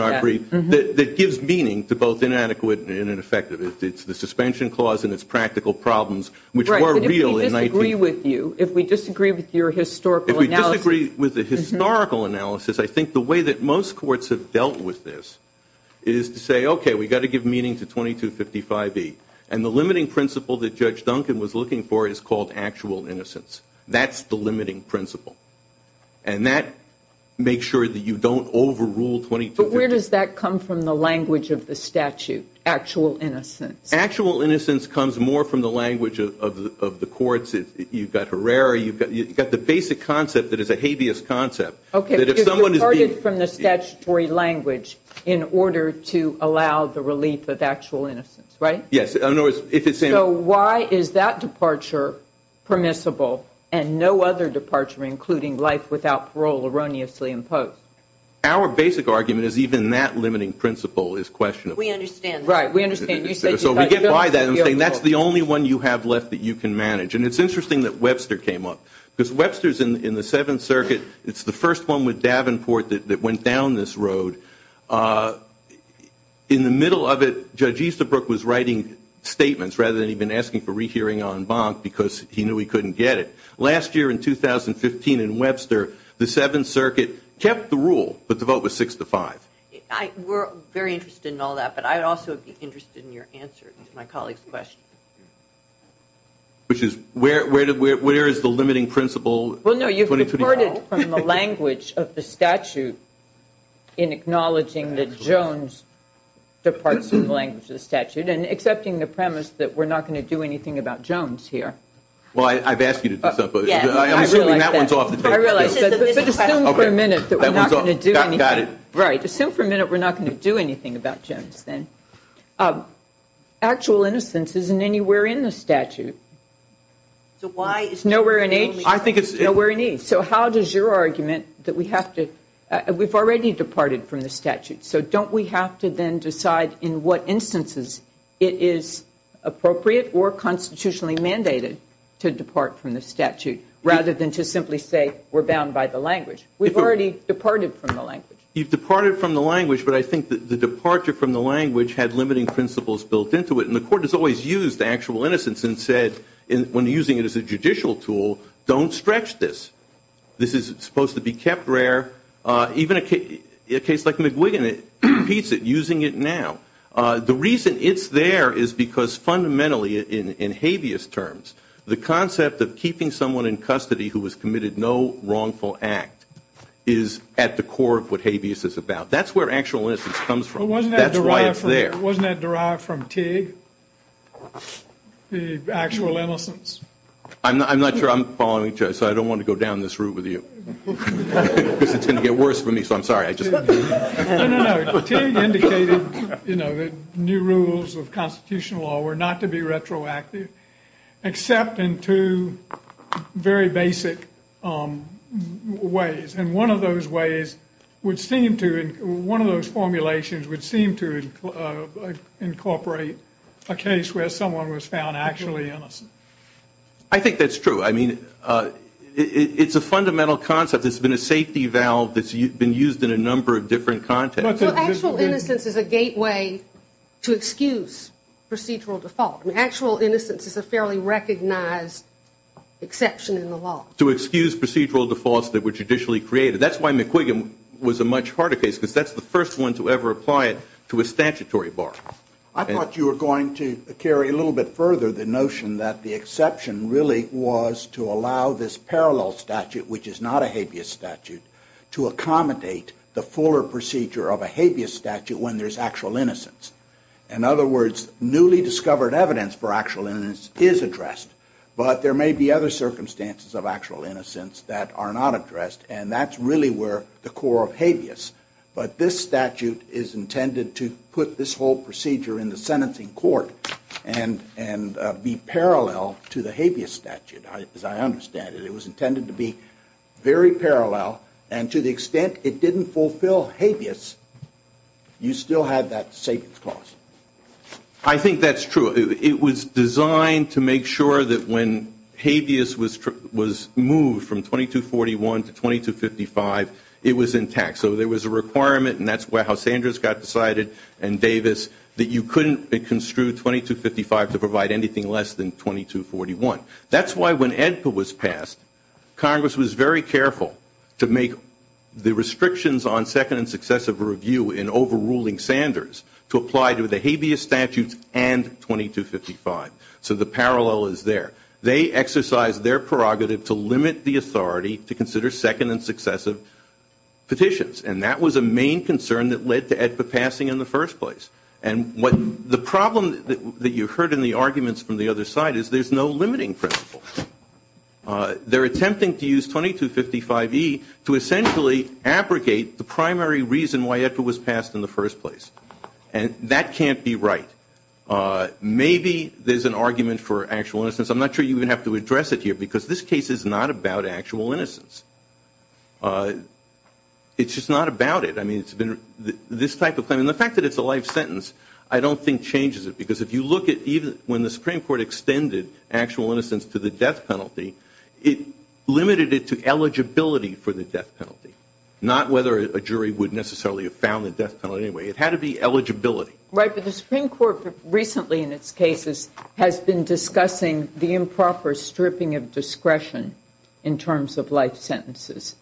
our brief that gives meaning to both inadequate and ineffective. It's the suspension clause and its practical problems, which are real. If we disagree with you, if we disagree with your historical analysis... If we disagree with the historical analysis, I think the way that most courts have dealt with this is to say, okay, we've got to give meaning to 2255E. And the limiting principle that Judge Duncan was looking for is called actual innocence. That's the limiting principle. And that makes sure that you don't overrule 2255E. But where does that come from, the language of the statute, actual innocence? Actual innocence comes more from the language of the courts. You've got Herrera. You've got the basic concept that is a habeas concept. Okay, so it's departed from the statutory language in order to allow the relief of actual innocence, right? Yes. So why is that departure permissible and no other departure, including life without parole erroneously imposed? Our basic argument is even that limiting principle is questionable. We understand that. Right, we understand. So we get by that. That's the only one you have left that you can manage. And it's interesting that Webster came up because Webster's in the Seventh Circuit. It's the first one with Davenport that went down this road. In the middle of it, Judge Easterbrook was writing statements rather than even asking for rehearing on bond because he knew he couldn't get it. Last year in 2015 in Webster, the Seventh Circuit kept the rule, but the vote was six to five. We're very interested in all that, but I would also be interested in your answer to my colleague's question. Which is where is the limiting principle? Well, no, you've departed from the language of the statute in acknowledging that Jones departs from the language of the statute and accepting the premise that we're not going to do anything about Jones here. Well, I've asked you to put that up, but... I realize that. Assume for a minute that we're not going to do anything. Right, assume for a minute that we're not going to do anything about Jones, then. Actual innocence isn't anywhere in the statute. So why is nowhere in each? I think it's... Nowhere in each. So how does your argument that we have to... We've already departed from the statute, so don't we have to then decide in what instances it is appropriate or constitutionally mandated to depart from the statute rather than just simply say we're bound by the language? We've already departed from the language. He's departed from the language, but I think that the departure from the language had limiting principles built into it, and the court has always used actual innocence and said when using it as a judicial tool, don't stretch this. This is supposed to be kept rare. Even a case like McGuigan, it repeats it, using it now. The reason it's there is because fundamentally, in habeas terms, the concept of keeping someone in custody who has committed no wrongful act is at the core of what habeas is about. That's where actual innocence comes from. That's why it's there. Wasn't that derived from Teague, the actual innocence? I'm not sure I'm following, so I don't want to go down this route with you. It's going to get worse for me, so I'm sorry. No, no, no. Teague indicated, you know, the new rules of constitutional law were not to be retroactive except in two very basic ways. And one of those ways would seem to, one of those formulations would seem to incorporate a case where someone was found actually innocent. I think that's true. I mean, it's a fundamental concept. It's been a safety valve that's been used in a number of different contexts. Actual innocence is a gateway to excuse procedural defaults. Actual innocence is a fairly recognized exception in the law. To excuse procedural defaults that were judicially created. That's why McQuiggan was a much harder case because that's the first one to ever apply it to a statutory bar. I thought you were going to carry a little bit further the notion that the exception really was to allow this parallel statute, which is not a habeas statute, to accommodate the fuller procedure of a habeas statute when there's actual innocence. In other words, newly discovered evidence for actual innocence is addressed, but there may be other circumstances of actual innocence that are not addressed, and that's really where the core of habeas. But this statute is intended to put this whole procedure in the sentencing court and be parallel to the habeas statute, as I understand it. It was intended to be very parallel, and to the extent it didn't fulfill habeas, you still had that safety clause. I think that's true. It was designed to make sure that when habeas was moved from 2241 to 2255, it was intact. So there was a requirement, and that's how Sanders got decided and Davis, that you couldn't construe 2255 to provide anything less than 2241. That's why when AEDPA was passed, Congress was very careful to make the restrictions on second and successive review in overruling Sanders to apply to the habeas statute and 2255. So the parallel is there. They exercised their prerogative to limit the authority to consider second and successive petitions, and that was a main concern that led to AEDPA passing in the first place. And the problem that you heard in the arguments from the other side is there's no limiting principle. They're attempting to use 2255E to essentially abrogate the primary reason why AEDPA was passed in the first place, and that can't be right. Maybe there's an argument for actual innocence. I'm not sure you even have to address it here because this case is not about actual innocence. It's just not about it. I mean, it's been this type of thing. And the fact that it's a life sentence I don't think changes it because if you look at even when the Supreme Court extended actual innocence to the death penalty, it limited it to eligibility for the death penalty, not whether a jury would necessarily have found the death penalty anyway. It had to be eligibility. Right, but the Supreme Court recently in its cases has been discussing the improper stripping of discretion in terms of life sentences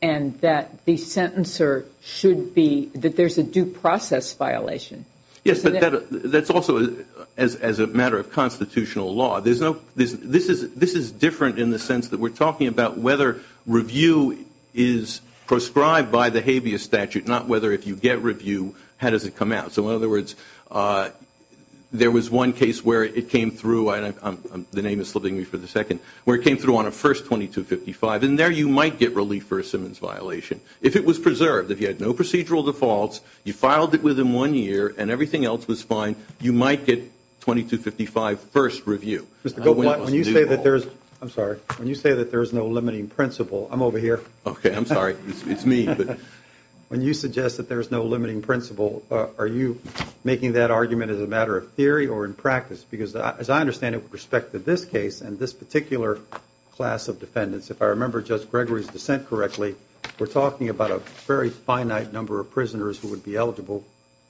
and that the sentencer should be... that there's a due process violation. Yes, but that's also as a matter of constitutional law. This is different in the sense that we're talking about whether review is proscribed by the habeas statute, not whether if you get review, how does it come out. So in other words, there was one case where it came through, the name is holding me for the second, where it came through on a first 2255, and there you might get relief for a Simmons violation. If it was preserved, if you had no procedural defaults, you filed it within one year and everything else was fine, you might get 2255 first review. When you say that there's... I'm sorry. When you say that there's no limiting principle... I'm over here. Okay, I'm sorry. It's me. When you suggest that there's no limiting principle, are you making that argument as a matter of theory or in practice? Because as I understand it with respect to this case and this particular class of defendants, if I remember Judge Gregory's dissent correctly, we're talking about a very finite number of prisoners who would be eligible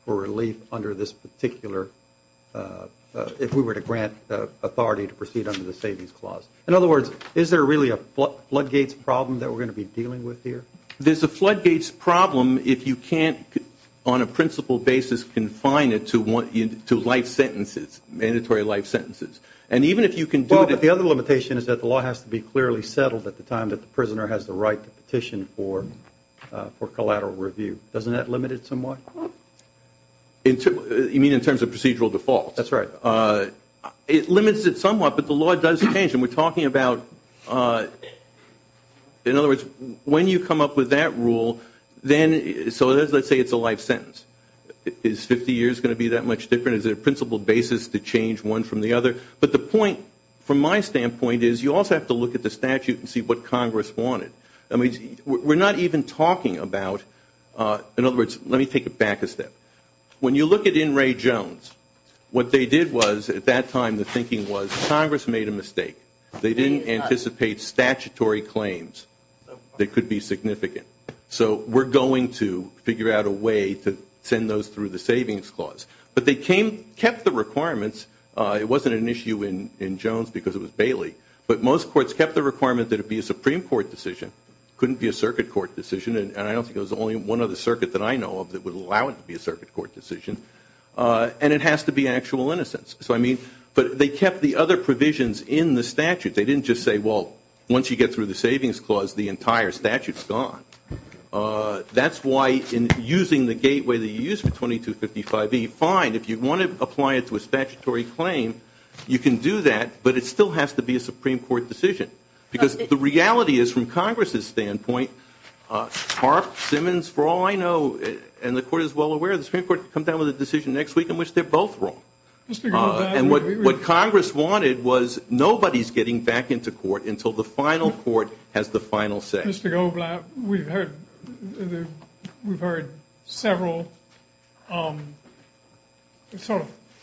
for relief under this particular... to proceed under the Savings Clause. In other words, is there really a floodgates problem that we're going to be dealing with here? There's a floodgates problem if you can't, on a principal basis, confine it to life sentences, mandatory life sentences. And even if you can do that... But the other limitation is that the law has to be clearly settled at the time that the prisoner has the right to petition for collateral review. Doesn't that limit it somewhat? You mean in terms of procedural default? That's right. It limits it somewhat, but the law does change. And we're talking about... In other words, when you come up with that rule, then... so let's say it's a life sentence. Is 50 years going to be that much different? Is there a principal basis to change one from the other? But the point, from my standpoint, is you also have to look at the statute and see what Congress wanted. We're not even talking about... In other words, let me take it back a step. When you look at In re Jones, what they did was, at that time, the thinking was Congress made a mistake. They didn't anticipate statutory claims that could be significant. So we're going to figure out a way to send those through the savings clause. But they kept the requirements. It wasn't an issue in Jones because it was Bailey. But most courts kept the requirement that it be a Supreme Court decision. It couldn't be a circuit court decision, and I don't think there's only one other circuit that I know of that would allow it to be a circuit court decision. And it has to be actual innocence. But they kept the other provisions in the statute. They didn't just say, well, once you get through the savings clause, the entire statute's gone. That's why, in using the gateway that you used for 2255B, fine, if you want to apply it to a statutory claim, you can do that, but it still has to be a Supreme Court decision. Because the reality is, from Congress's standpoint, Hart, Simmons, for all I know, and the Court is well aware, the Supreme Court comes down with a decision next week in which they're both wrong. And what Congress wanted was nobody's getting back into court until the final court has the final say. Mr. Goldblatt, we've heard several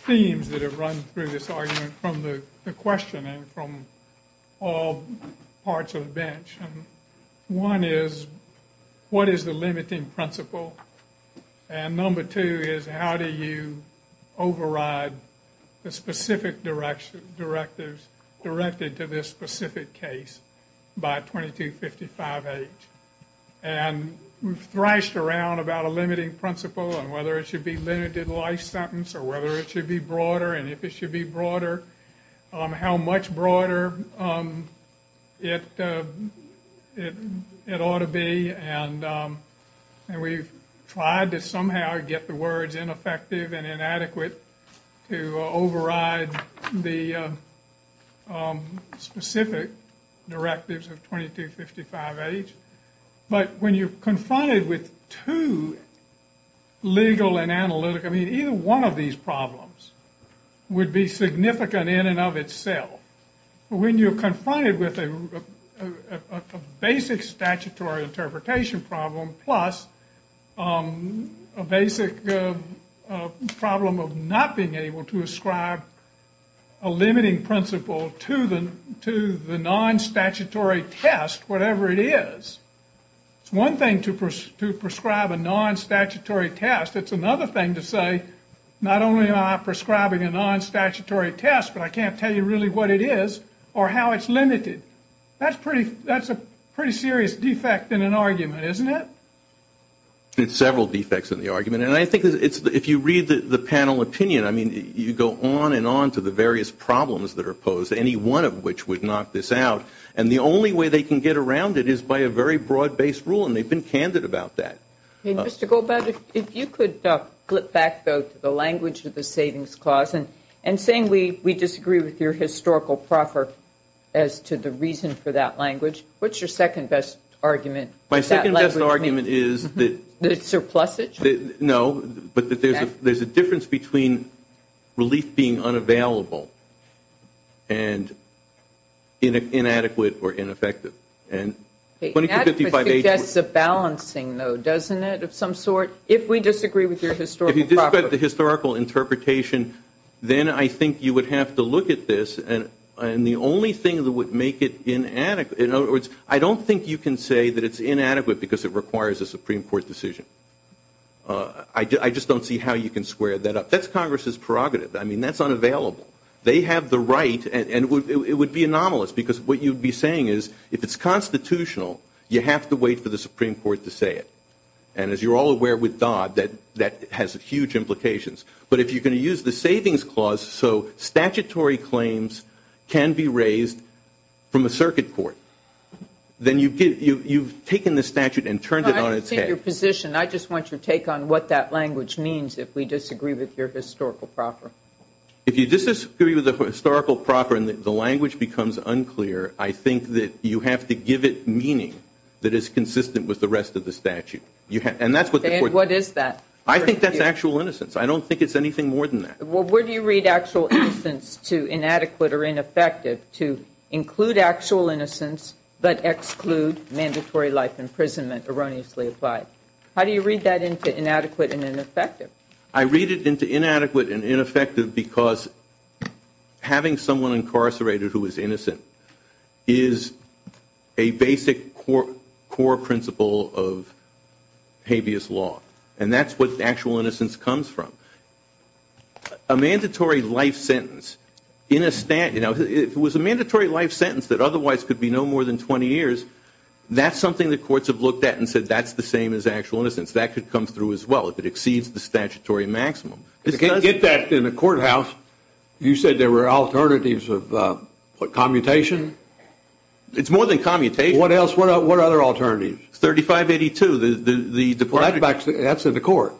themes that have run through this argument One is, what is the limiting principle? And number two is, how do you override the specific directives directed to this specific case by 2255H? And we've thrashed around about a limiting principle and whether it should be limited life sentence or whether it should be broader and if it should be broader, how much broader it ought to be. And we've tried to somehow get the words ineffective and inadequate to override the specific directives of 2255H. But when you're confronted with two legal and analytical, I mean, either one of these problems would be significant in and of itself. When you're confronted with a basic statutory interpretation problem plus a basic problem of not being able to ascribe a limiting principle to the non-statutory test, whatever it is. It's one thing to prescribe a non-statutory test. It's another thing to say, not only am I prescribing a non-statutory test, but I can't tell you really what it is or how it's limited. That's a pretty serious defect in an argument, isn't it? It's several defects in the argument. And I think if you read the panel opinion, I mean, you go on and on to the various problems that are posed, any one of which would knock this out. And the only way they can get around it is by a very broad-based rule, and they've been candid about that. Mr. Goldberg, if you could flip back, though, to the language of the savings clause and saying we disagree with your historical proper as to the reason for that language, what's your second-best argument? My second-best argument is that there's a difference between relief being unavailable and inadequate or ineffective. That's a balancing, though, doesn't it, of some sort? If we disagree with your historical proper. If you disagree with the historical interpretation, then I think you would have to look at this, and the only thing that would make it inadequate, in other words, I don't think you can say that it's inadequate because it requires a Supreme Court decision. I just don't see how you can square that up. That's Congress's prerogative. I mean, that's unavailable. They have the right, and it would be anomalous, because what you'd be saying is if it's constitutional, you have to wait for the Supreme Court to say it. And as you're all aware with Dodd, that has huge implications. But if you're going to use the savings clause so statutory claims can be raised from a circuit court, then you've taken the statute and turned it on its head. I don't see your position. I just want your take on what that language means if we disagree with your historical proper. If you disagree with the historical proper and the language becomes unclear, I think that you have to give it meaning that is consistent with the rest of the statute. Okay, and what is that? I think that's actual innocence. I don't think it's anything more than that. Well, where do you read actual innocence to inadequate or ineffective? To include actual innocence but exclude mandatory life imprisonment erroneously applied. How do you read that into inadequate and ineffective? I read it into inadequate and ineffective because having someone incarcerated who is innocent is a basic core principle of habeas law, and that's what actual innocence comes from. A mandatory life sentence in a statute, if it was a mandatory life sentence that otherwise could be no more than 20 years, that's something the courts have looked at and said that's the same as actual innocence. That could come through as well if it exceeds the statutory maximum. You can't get that in the courthouse. You said there were alternatives of what, commutation? It's more than commutation. What else? What other alternatives? 3582. That's for the court.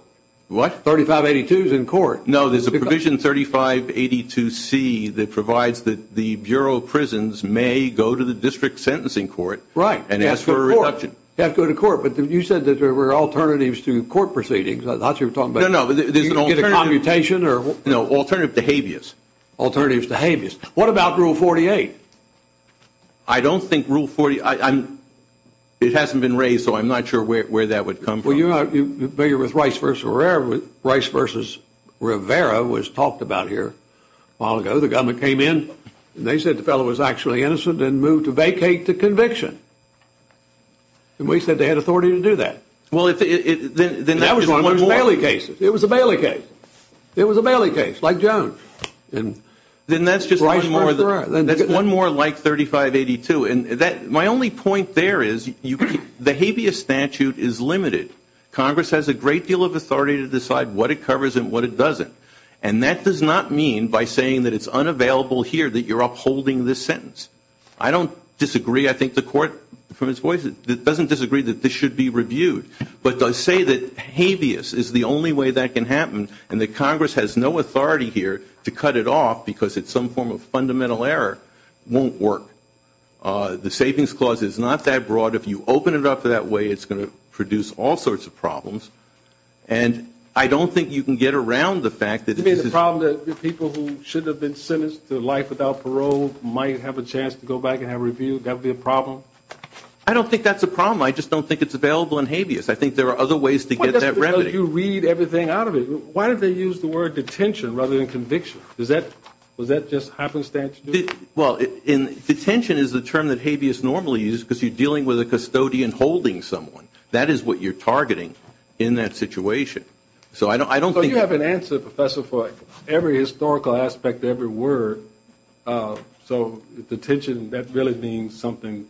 What? 3582 is in court. No, there's a provision 3582C that provides that the bureau of prisons may go to the district sentencing court and ask for a reduction. You have to go to court. But you said that there were alternatives to court proceedings. No, no. Either commutation or alternative to habeas. Alternatives to habeas. What about Rule 48? I don't think Rule 48. It hasn't been raised, so I'm not sure where that would come from. Well, you're with Rice v. Rivera. Rice v. Rivera was talked about here a while ago. The guy that came in. They said the fellow was actually innocent and moved to vacate the conviction. And we said they had authority to do that. Well, then that was one more. It was a Bailey case. It was a Bailey case, like Jones. Then that's just Rice v. Rivera. One more like 3582. My only point there is the habeas statute is limited. Congress has a great deal of authority to decide what it covers and what it doesn't. And that does not mean by saying that it's unavailable here that you're upholding this sentence. I don't disagree. I think the court, from its voice, doesn't disagree that this should be reviewed. But to say that habeas is the only way that can happen and that Congress has no authority here to cut it off because it's some form of fundamental error won't work. The savings clause is not that broad. If you open it up that way, it's going to produce all sorts of problems. And I don't think you can get around the fact that this is- You mean the problem that people who should have been sentenced to life without parole might have a chance to go back and have a review? Would that be a problem? I don't think that's a problem. I just don't think it's available in habeas. I think there are other ways to get that remedy. You read everything out of it. Why did they use the word detention rather than conviction? Does that just happen statutorily? Well, detention is the term that habeas normally uses because you're dealing with a custodian holding someone. That is what you're targeting in that situation. So I don't think- So you have an answer, Professor, for every historical aspect of every word. So detention, that really means something-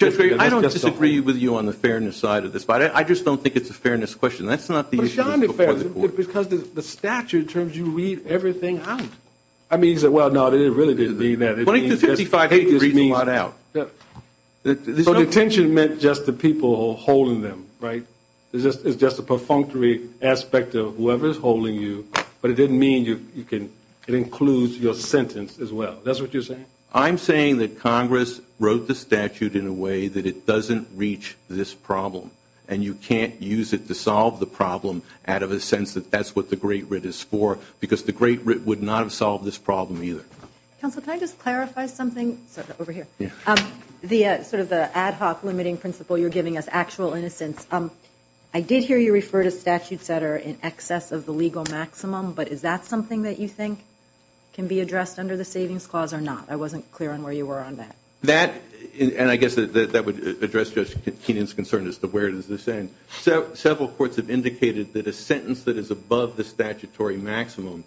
I don't disagree with you on the fairness side of this, but I just don't think it's a fairness question. That's not the issue. Because the statute terms you read everything out. I mean- Well, no, it really didn't mean that. It means- So detention meant just the people holding them, right? It's just a perfunctory aspect of whoever's holding you, but it didn't mean it includes your sentence as well. That's what you're saying? I'm saying that Congress wrote the statute in a way that it doesn't reach this problem, and you can't use it to solve the problem out of a sense that that's what the Great Writ is for because the Great Writ would not have solved this problem either. Counselor, can I just clarify something? Over here. The ad hoc limiting principle you're giving us, actual innocence, I did hear you refer to statutes that are in excess of the legal maximum, but is that something that you think can be addressed under the Savings Clause or not? I wasn't clear on where you were on that. And I guess that would address Tina's concern as to where it is the same. Several courts have indicated that a sentence that is above the statutory maximum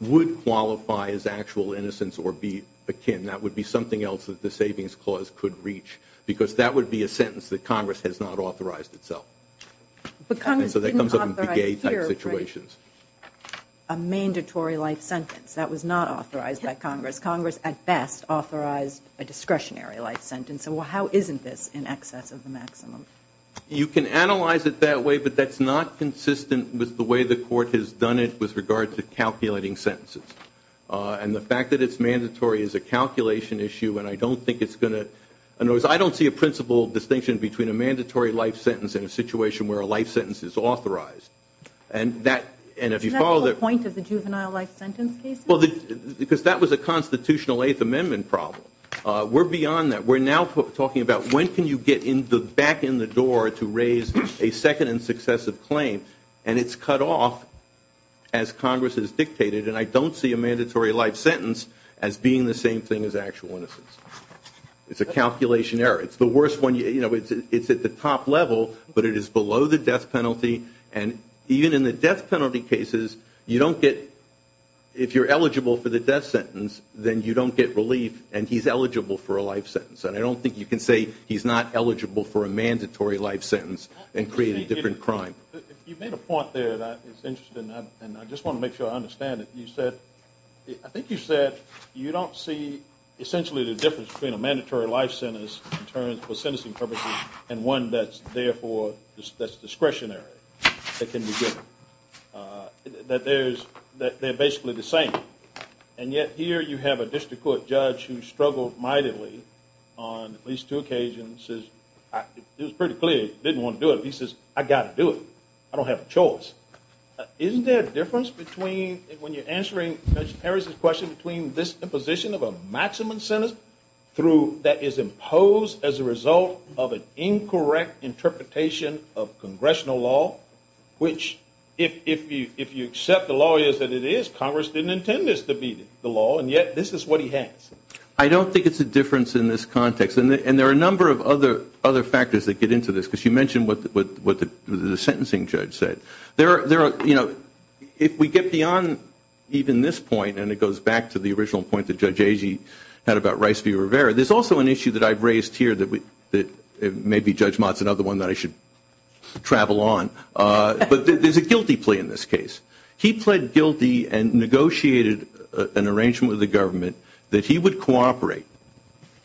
would qualify as actual innocence or be akin. That would be something else that the Savings Clause could reach because that would be a sentence that Congress has not authorized itself. But Congress didn't authorize here a mandatory life sentence. That was not authorized by Congress. Congress, at best, authorized a discretionary life sentence. So how isn't this in excess of the maximum? You can analyze it that way, but that's not consistent with the way the court has done it with regard to calculating sentences. And the fact that it's mandatory is a calculation issue, and I don't think it's going to – in other words, I don't see a principal distinction between a mandatory life sentence and a situation where a life sentence is authorized. And if you follow that – Is that the point of the juvenile life sentence case? Because that was a constitutional Eighth Amendment problem. We're beyond that. We're now talking about when can you get back in the door to raise a second and successive claim, and it's cut off as Congress has dictated. And I don't see a mandatory life sentence as being the same thing as actual innocence. It's a calculation error. It's the worst one. You know, it's at the top level, but it is below the death penalty. And even in the death penalty cases, you don't get – if you're eligible for the death sentence, then you don't get relief, and he's eligible for a life sentence. And I don't think you can say he's not eligible for a mandatory life sentence and create a different crime. You made a point there that is interesting, and I just want to make sure I understand it. You said – I think you said you don't see essentially the difference between a mandatory life sentence in terms of sentencing purposes and one that's therefore discretionary that can be given, that they're basically the same. And yet here you have a district court judge who struggled mightily on at least two occasions. It was pretty clear he didn't want to do it. He says, I've got to do it. I don't have a choice. Isn't there a difference between – when you're answering Judge Harris's question, between this imposition of a maximum sentence through – that is imposed as a result of an incorrect interpretation of congressional law, which if you accept the law as it is, Congress didn't intend this to be the law, and yet this is what he has. I don't think it's a difference in this context. And there are a number of other factors that get into this, because you mentioned what the sentencing judge said. There are – if we get beyond even this point, and it goes back to the original point that Judge Agee had about Rice v. Rivera, there's also an issue that I've raised here that maybe Judge Mott's another one that I should travel on. But there's a guilty plea in this case. He pled guilty and negotiated an arrangement with the government that he would cooperate,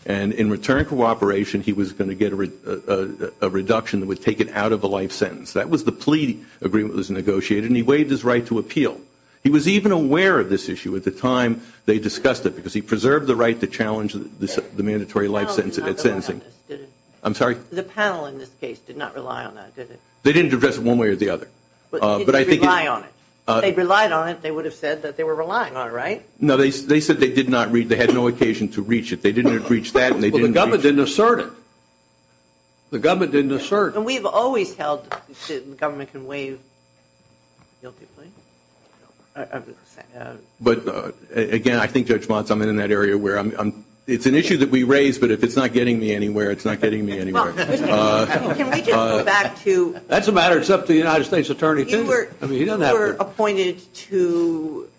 and in return for cooperation he was going to get a reduction that would take it out of the life sentence. That was the plea agreement that was negotiated, and he waived his right to appeal. He was even aware of this issue at the time they discussed it, because he preserved the right to challenge the mandatory life sentence. The panel in this case did not rely on that, did it? They didn't address it one way or the other. But did they rely on it? If they relied on it, they would have said that they were relying on it, right? No, they said they did not – they had no occasion to reach it. They didn't reach that, and they didn't – Well, the government didn't assert it. The government didn't assert it. And we have always held that the government can waive a guilty plea. But, again, I think Judge Monson, in that area where it's an issue that we raise, but if it's not getting me anywhere, it's not getting me anywhere. Can we just go back to – That's a matter that's up to the United States Attorney. You were appointed to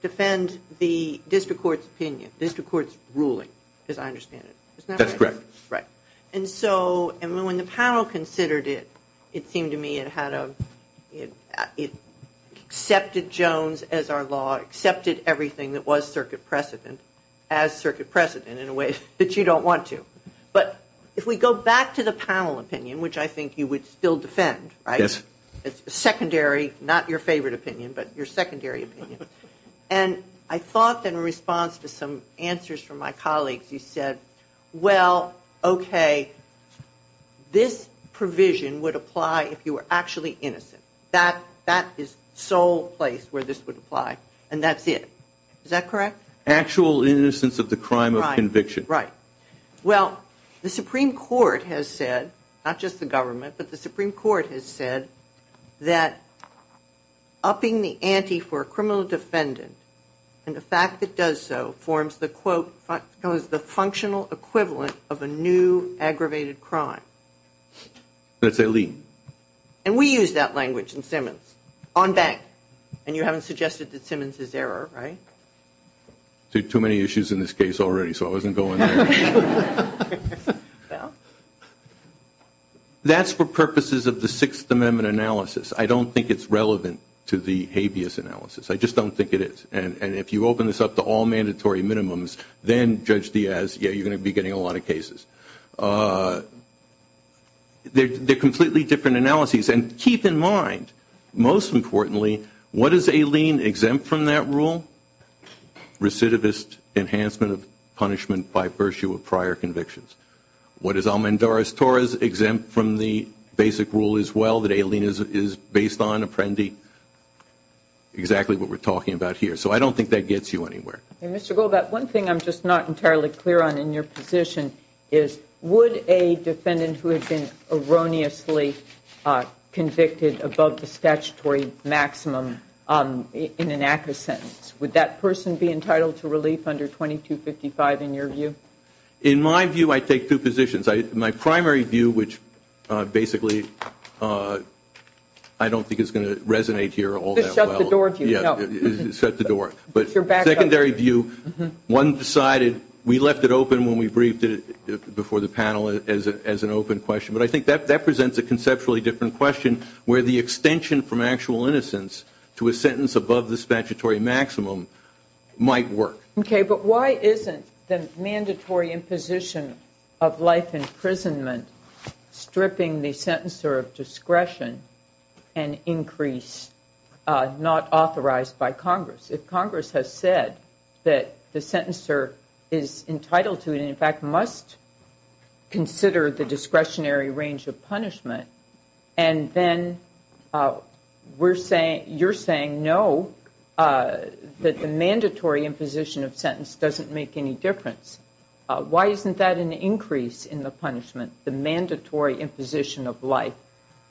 defend the district court's opinion, district court's ruling, as I understand it. That's correct. Right. And so when the panel considered it, it seemed to me it had a – it accepted Jones as our law, accepted everything that was circuit precedent as circuit precedent in a way that you don't want to. But if we go back to the panel opinion, which I think you would still defend, right? Yes. It's a secondary – not your favorite opinion, but your secondary opinion. And I thought, in response to some answers from my colleagues, you said, well, okay, this provision would apply if you were actually innocent. That is the sole place where this would apply, and that's it. Is that correct? Actual innocence of the crime of conviction. Right. Well, the Supreme Court has said, not just the government, but the Supreme Court has said that upping the ante for a criminal defendant and the fact it does so forms the, quote, functional equivalent of a new aggravated crime. That's a lien. And we use that language in Simmons, on bank. And you haven't suggested that Simmons is error, right? Too many issues in this case already, so I wasn't going there. That's for purposes of the Sixth Amendment analysis. I don't think it's relevant to the habeas analysis. I just don't think it is. And if you open this up to all mandatory minimums, then, Judge Diaz, yeah, you're going to be getting a lot of cases. They're completely different analyses. And keep in mind, most importantly, what is a lien exempt from that rule? Recidivist enhancement of punishment by virtue of prior convictions. What is Almendarez-Torres exempt from the basic rule as well, that a lien is based on apprendi? Exactly what we're talking about here. So I don't think that gets you anywhere. Mr. Goldbart, one thing I'm just not entirely clear on in your petition is, would a defendant who had been erroneously convicted above the statutory maximum in an active sentence, would that person be entitled to relief under 2255 in your view? In my view, I take two positions. My primary view, which basically I don't think is going to resonate here all that well. Just shut the door view. Yeah, shut the door. But secondary view, one decided, we left it open when we briefed it before the panel as an open question. But I think that presents a conceptually different question where the extension from actual innocence to a sentence above the statutory maximum might work. Okay, but why isn't the mandatory imposition of life imprisonment stripping the sentencer of discretion an increase not authorized by Congress? If Congress has said that the sentencer is entitled to, and in fact must consider the discretionary range of punishment, and then you're saying no, that the mandatory imposition of sentence doesn't make any difference. Why isn't that an increase in the punishment, the mandatory imposition of life?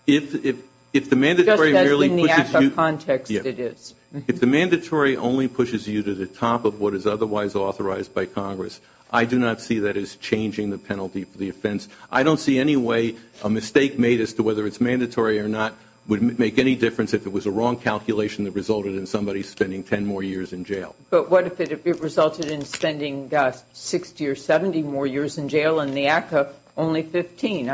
If the mandatory really puts it... That's in the actual context it is. If the mandatory only pushes you to the top of what is otherwise authorized by Congress, I do not see that as changing the penalty for the offense. I don't see any way a mistake made as to whether it's mandatory or not would make any difference if it was a wrong calculation that resulted in somebody spending 10 more years in jail. But what if it resulted in spending 60 or 70 more years in jail, and the ACCA only 15?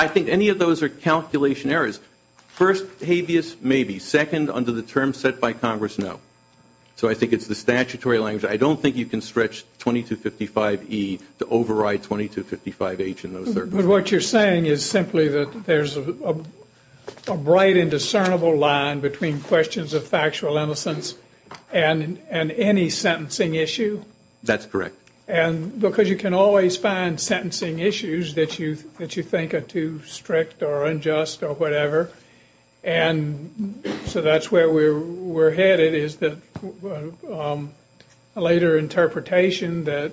I think any of those are calculation errors. First, habeas, maybe. Second, under the terms set by Congress, no. So I think it's the statutory language. I don't think you can stretch 2255E to override 2255H in those circumstances. What you're saying is simply that there's a bright and discernible line between questions of factual innocence and any sentencing issue? That's correct. Because you can always find sentencing issues that you think are too strict or unjust or whatever. And so that's where we're headed is that a later interpretation that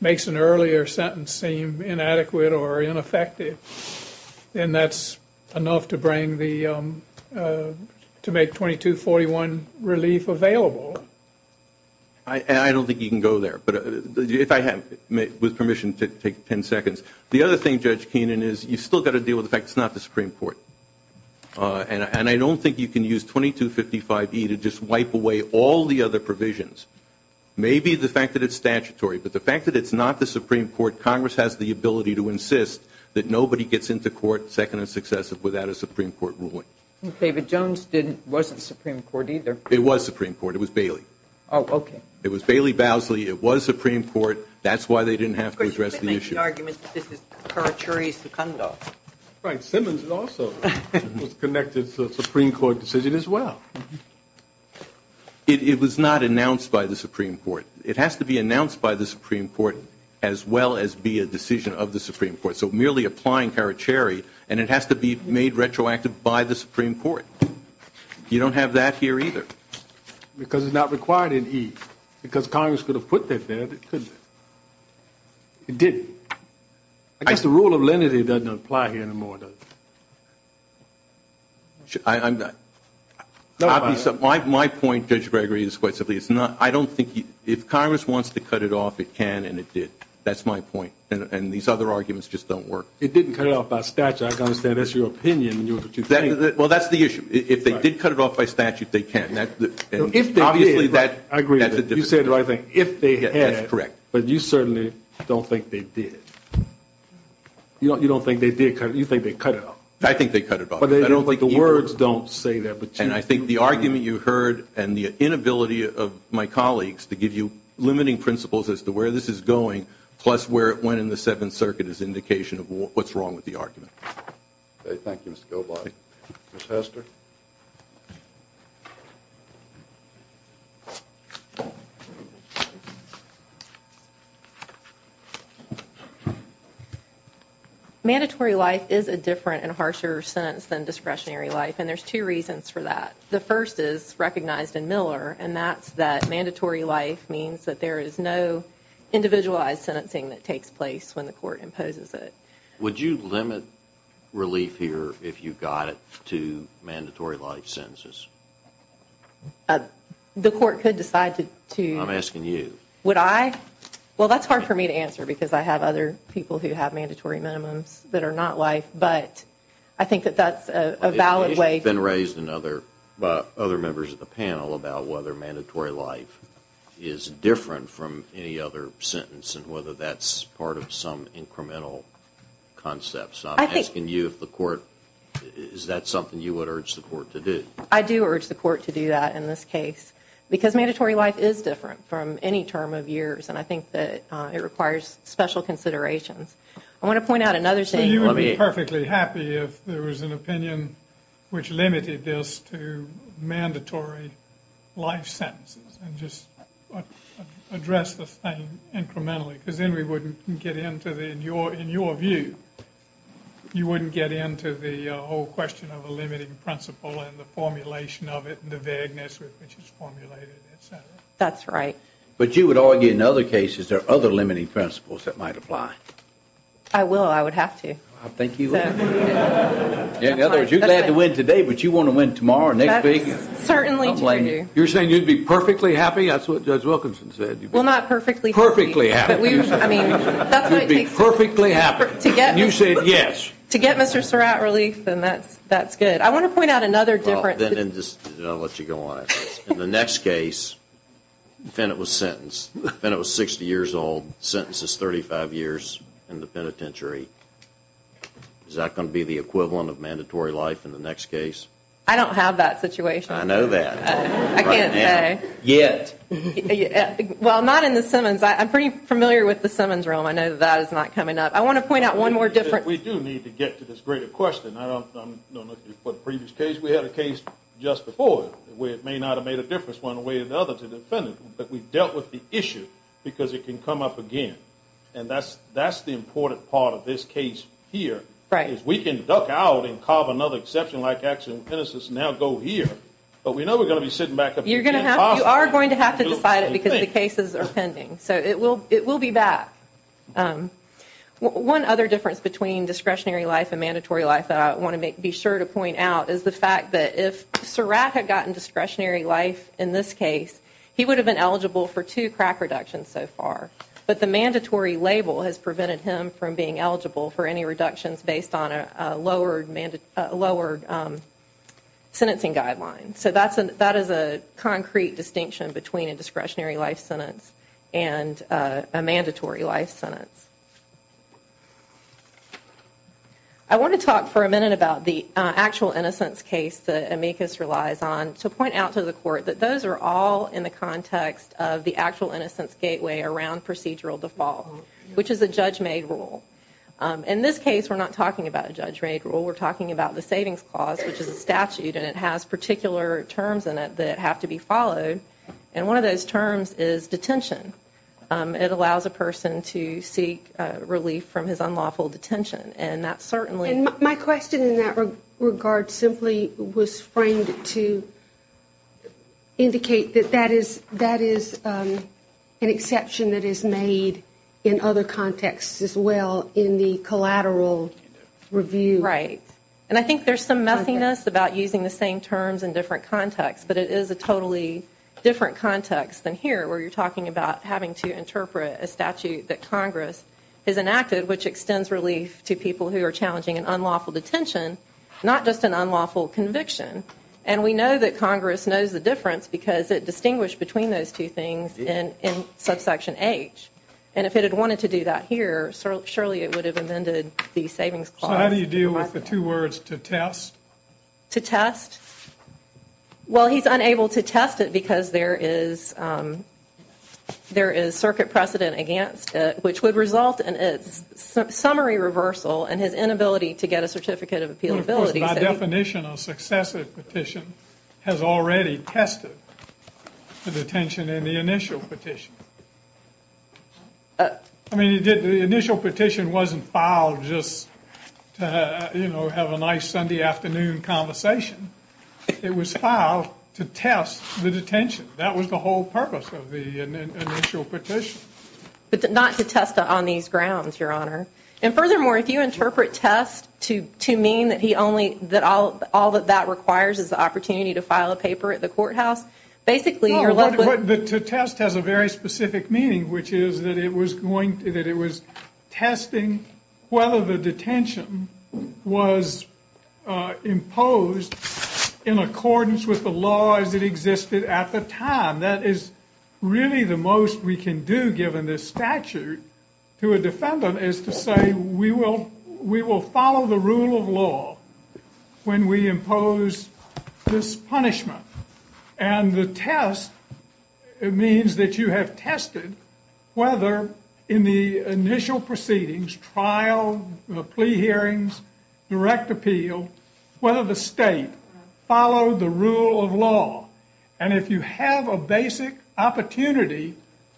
makes an earlier sentence seem inadequate or ineffective, and that's enough to make 2241 relief available. I don't think you can go there. With permission, take 10 seconds. The other thing, Judge Keenan, is you've still got to deal with the fact it's not the Supreme Court. And I don't think you can use 2255E to just wipe away all the other provisions. Maybe it's the fact that it's statutory, but the fact that it's not the Supreme Court, Congress has the ability to insist that nobody gets into court second and successive without a Supreme Court ruling. David Jones wasn't Supreme Court either. It was Supreme Court. It was Bailey. Oh, okay. It was Bailey-Basley. It was Supreme Court. That's why they didn't have to address the issue. Of course, you can make the argument that this is Carachuri-Secundo. Right. Simmons also was connected to a Supreme Court decision as well. It was not announced by the Supreme Court. It has to be announced by the Supreme Court as well as be a decision of the Supreme Court. So merely applying Carachuri, and it has to be made retroactive by the Supreme Court. You don't have that here either. Because it's not required in E. Because Congress could have put that there, but it couldn't. It didn't. I guess the rule of lenity doesn't apply here anymore, does it? My point, Judge Gregory, is I don't think you – if Congress wants to cut it off, it can and it did. That's my point. And these other arguments just don't work. It didn't cut it off by statute. I understand that's your opinion. Well, that's the issue. If they did cut it off by statute, they can. If they did, I agree with it. You said, I think, if they had. That's correct. But you certainly don't think they did. You don't think they did because you think they cut it off. I think they cut it off. But the words don't say that. And I think the argument you heard and the inability of my colleagues to give you limiting principles as to where this is going, plus where it went in the Seventh Circuit, is indication of what's wrong with the argument. Thank you, Mr. Goldbach. Ms. Hester? Mandatory life is a different and harsher sentence than discretionary life, and there's two reasons for that. The first is recognized in Miller, and that's that mandatory life means that there is no individualized sentencing that takes place when the court imposes it. Would you limit relief here if you got it to mandatory life sentences? The court could decide to... I'm asking you. Would I? Well, that's hard for me to answer because I have other people who have mandatory minimums that are not life, but I think that that's a valid way... It's been raised by other members of the panel about whether mandatory life is different from any other sentence and whether that's part of some incremental concepts. I'm asking you if the court... Is that something you would urge the court to do? I do urge the court to do that in this case because mandatory life is different from any term of years, and I think that it requires special consideration. I want to point out another thing... You would be perfectly happy if there was an opinion which limited this to mandatory life sentences and just address the thing incrementally because then we wouldn't get into the... In your view, you wouldn't get into the whole question of a limiting principle and the formulation of it and the vagueness which is formulated, et cetera. That's right. But you would argue in other cases there are other limiting principles that might apply. I will. I would have to. I think you will. In other words, you're glad to win today, but you want to win tomorrow, next week. Certainly do. I don't blame you. You're saying you'd be perfectly happy? That's what Judge Wilkinson said. Well, not perfectly happy. Perfectly happy. I mean... You'd be perfectly happy. You said yes. To get Mr. Surratt released, then that's good. I want to point out another difference... Then I'll let you go on. In the next case, the defendant was sentenced. The defendant was 60 years old, sentences 35 years in the penitentiary. Is that going to be the equivalent of mandatory life in the next case? I don't have that situation. I know that. I can't say. Yes. Well, not in the Simmons. I'm pretty familiar with the Simmons rule. I know that is not coming up. I want to point out one more difference. We do need to get to this greater question. I don't know if you've heard the previous case. We had a case just before where it may not have made a difference one way or the other to the defendant, but we dealt with the issue because it can come up again. And that's the important part of this case here. If we can duck out and carve another exception, now go here. But we know we're going to be sitting back... You are going to have to decide it because the cases are pending. So it will be back. One other difference between discretionary life and mandatory life that I want to be sure to point out is the fact that if Surratt had gotten discretionary life in this case, he would have been eligible for two crack reductions so far. But the mandatory label has prevented him from being eligible for any reductions based on a lowered sentencing guideline. So that is a concrete distinction between a discretionary life sentence and a mandatory life sentence. I want to talk for a minute about the actual innocence case that amicus relies on to point out to the court that those are all in the context of the actual innocence gateway around procedural default, which is a Judge May rule. In this case, we're not talking about a Judge May rule. We're talking about the savings clause, which is a statute, and it has particular terms in it that have to be followed. And one of those terms is detention. It allows a person to seek relief from his unlawful detention. And that certainly... And my question in that regard simply was framed to indicate that that is an exception that is made in other contexts as well in the collateral review. Right. And I think there's some muffiness about using the same terms in different contexts, but it is a totally different context than here, where you're talking about having to interpret a statute that Congress has enacted, which extends relief to people who are challenging an unlawful detention, not just an unlawful conviction. And we know that Congress knows the difference because it distinguished between those two things in subsection H. And if it had wanted to do that here, surely it would have amended the savings clause. So how do you deal with the two words, to test? To test? Well, he's unable to test it because there is circuit precedent against it, which would result in a summary reversal and his inability to get a certificate of appealability. By definition, a successive petition has already tested the detention in the initial petition. I mean, the initial petition wasn't filed just to, you know, have a nice Sunday afternoon conversation. It was filed to test the detention. That was the whole purpose of the initial petition. But not to test on these grounds, Your Honor. And furthermore, if you interpret test to mean that all that that requires is the opportunity to file a paper at the courthouse, basically you're likely... The test has a very specific meaning, which is that it was testing whether the detention was imposed in accordance with the laws that existed at the time. That is really the most we can do, given this statute, to a defendant is to say, we will follow the rule of law when we impose this punishment. And the test means that you have tested whether in the initial proceedings, trial, the plea hearings, direct appeal, whether the state followed the rule of law. And if you have a basic opportunity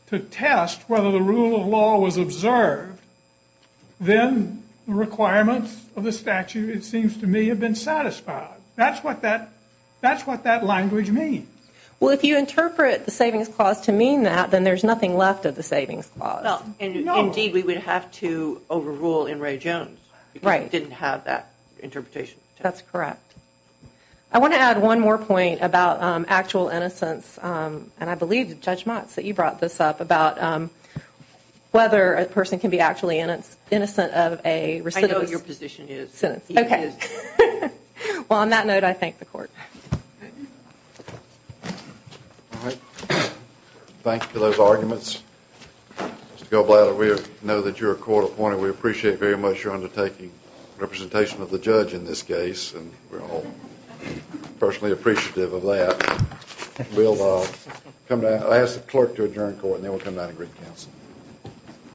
to test whether the rule of law was observed, then the requirements of the statute, it seems to me, have been satisfied. That's what that language means. Well, if you interpret the savings clause to mean that, then there's nothing left of the savings clause. Indeed, we would have to overrule in Ray Jones, because it didn't have that interpretation. That's correct. I want to add one more point about actual innocence, and I believe Judge Motz, that you brought this up, about whether a person can be actually innocent of a... I know what your position is. Okay. Well, on that note, I thank the court. Thank you for those arguments. Ms. Gilblad, we know that you're a court appointed. We appreciate very much your undertaking representation of the judge in this case. We're all personally appreciative of that. I'll ask the clerk to adjourn court, and then we'll come back to brief counsel.